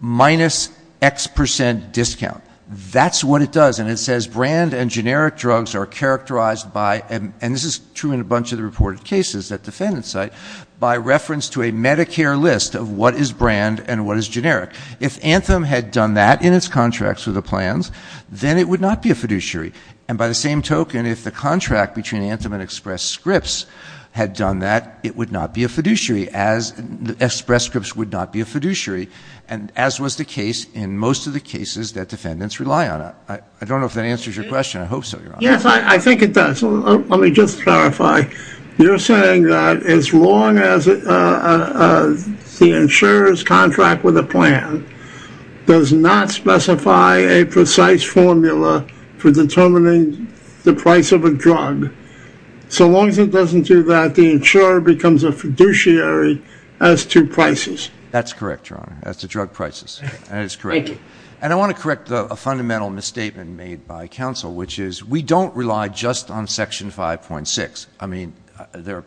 minus X percent discount. And that's what it does. And it says brand and generic drugs are characterized by, and this is true in a bunch of the reported cases that defendants cite, by reference to a Medicare list of what is brand and what is generic. If Antrim had done that in its contracts with the plans, then it would not be a fiduciary. And by the same token, if the contract between Antrim and Express Scripts had done that, it would not be a fiduciary, as Express Scripts would not be a fiduciary, as was the case in most of the cases that defendants rely on it. I don't know if that answers your question. I hope so, Your Honor. Yes, I think it does. Let me just clarify. You're saying that as long as the insurer's contract with a plan does not specify a precise formula for determining the price of a drug, so long as it doesn't do that, the insurer becomes a fiduciary as to prices. That's correct, Your Honor. That's the drug prices. That is correct. Thank you. And I want to correct a fundamental misstatement made by counsel, which is we don't rely just on Section 5.6. I mean,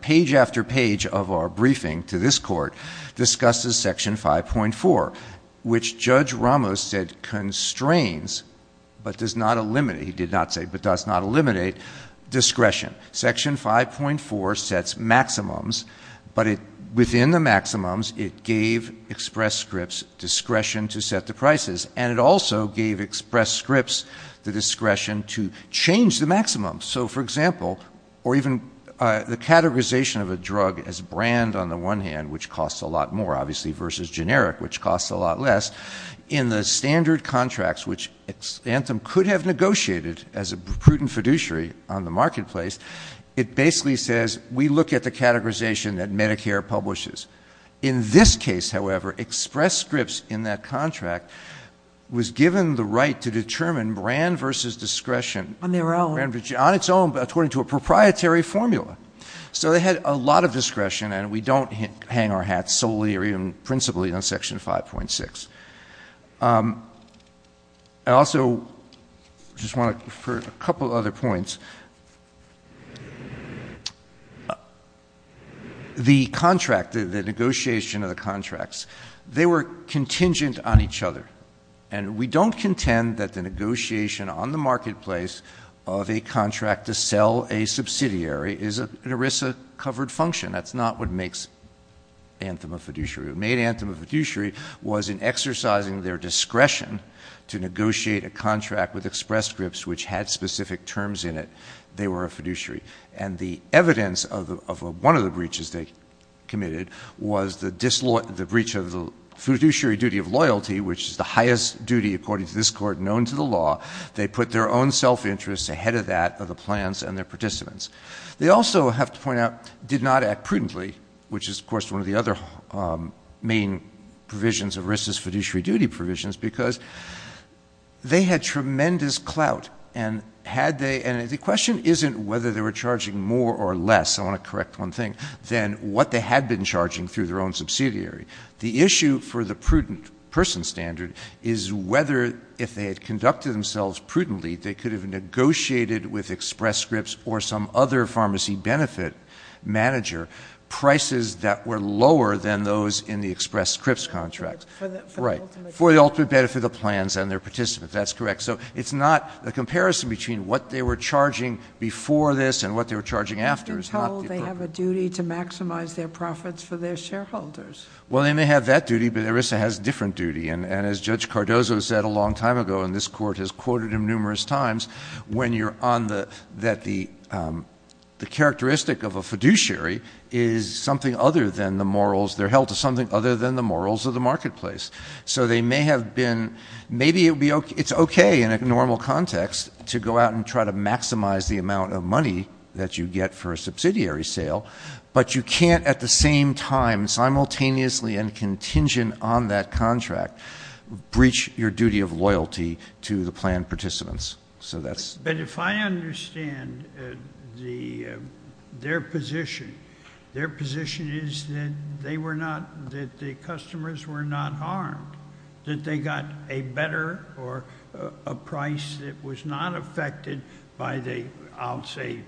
page after page of our briefing to this Court discusses Section 5.4, which Judge Ramos said constrains but does not eliminate discretion. Section 5.4 sets maximums, but within the maximums it gave express scripts discretion to set the prices, and it also gave express scripts the discretion to change the maximums. So, for example, or even the categorization of a drug as brand on the one hand, which costs a lot more, obviously, versus generic, which costs a lot less, in the standard contracts, which Xantham could have negotiated as a prudent fiduciary on the marketplace, it basically says we look at the categorization that Medicare publishes. In this case, however, express scripts in that contract was given the right to determine brand versus discretion on its own according to a proprietary formula. So they had a lot of discretion, and we don't hang our hats solely or even principally on Section 5.6. I also just want to refer to a couple of other points. The contract, the negotiation of the contracts, they were contingent on each other, and we don't contend that the negotiation on the marketplace of a contract to sell a subsidiary is an ERISA-covered function. That's not what makes Xantham a fiduciary. What made Xantham a fiduciary was in exercising their discretion to negotiate a contract with express scripts which had specific terms in it, they were a fiduciary. And the evidence of one of the breaches they committed was the breach of the fiduciary duty of loyalty, which is the highest duty, according to this Court, known to the law. They put their own self-interest ahead of that of the plans and their participants. They also, I have to point out, did not act prudently, which is, of course, one of the other main provisions of ERISA's fiduciary duty provisions because they had tremendous clout. And the question isn't whether they were charging more or less, I want to correct one thing, than what they had been charging through their own subsidiary. The issue for the prudent person standard is whether, if they had conducted themselves prudently, they could have negotiated with express scripts or some other pharmacy benefit manager, prices that were lower than those in the express scripts contract. Right. For the ultimate benefit of plans and their participants. That's correct. So it's not a comparison between what they were charging before this and what they were charging after. They have a duty to maximize their profits for their shareholders. Well, they may have that duty, but ERISA has a different duty. And as Judge Cardozo said a long time ago, and this Court has quoted him numerous times, when you're on that the characteristic of a fiduciary is something other than the morals, they're held to something other than the morals of the marketplace. So they may have been, maybe it's okay in a normal context to go out and try to maximize the amount of money that you get for a subsidiary sale, but you can't at the same time, simultaneously and contingent on that contract, breach your duty of loyalty to the plan participants. But if I understand their position, their position is that they were not, that the customers were not harmed, that they got a better or a price that was not affected by the, I'll say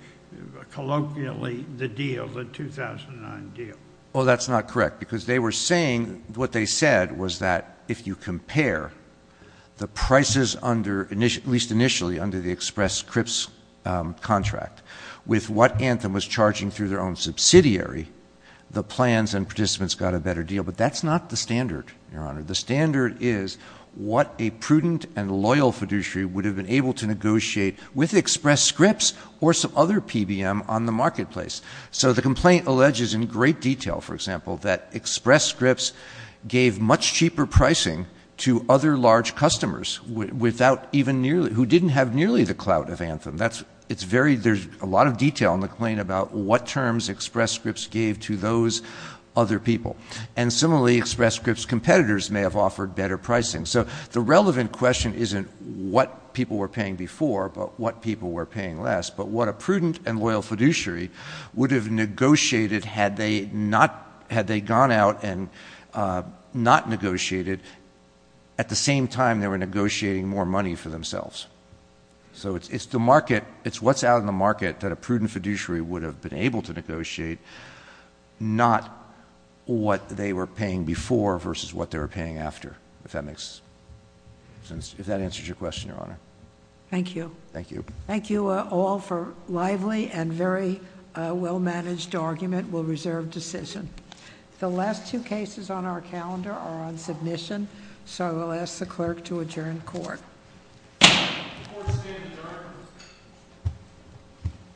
colloquially, the deal, the 2009 deal. Oh, that's not correct, because they were saying, what they said was that if you compare the prices under, at least initially under the Express Scripts contract, with what Anthem was charging through their own subsidiary, the plans and participants got a better deal. But that's not the standard, Your Honor. The standard is what a prudent and loyal fiduciary would have been able to negotiate with Express Scripts or some other PBM on the marketplace. So the complaint alleges in great detail, for example, that Express Scripts gave much cheaper pricing to other large customers without even nearly, who didn't have nearly the clout of Anthem. That's, it's very, there's a lot of detail in the complaint about what terms Express Scripts gave to those other people. And similarly, Express Scripts competitors may have offered better pricing. So the relevant question isn't what people were paying before, but what people were paying less. But what a prudent and loyal fiduciary would have negotiated had they not, had they gone out and not negotiated, at the same time they were negotiating more money for themselves. So it's the market, it's what's out in the market that a prudent fiduciary would have been able to negotiate, not what they were paying before versus what they were paying after, if that makes sense, if that answers your question, Your Honor. Thank you. Thank you. Thank you all for a lively and very well-managed argument. We'll reserve decision. The last two cases on our calendar are on submission, so I will ask the clerk to adjourn court. Court is adjourned.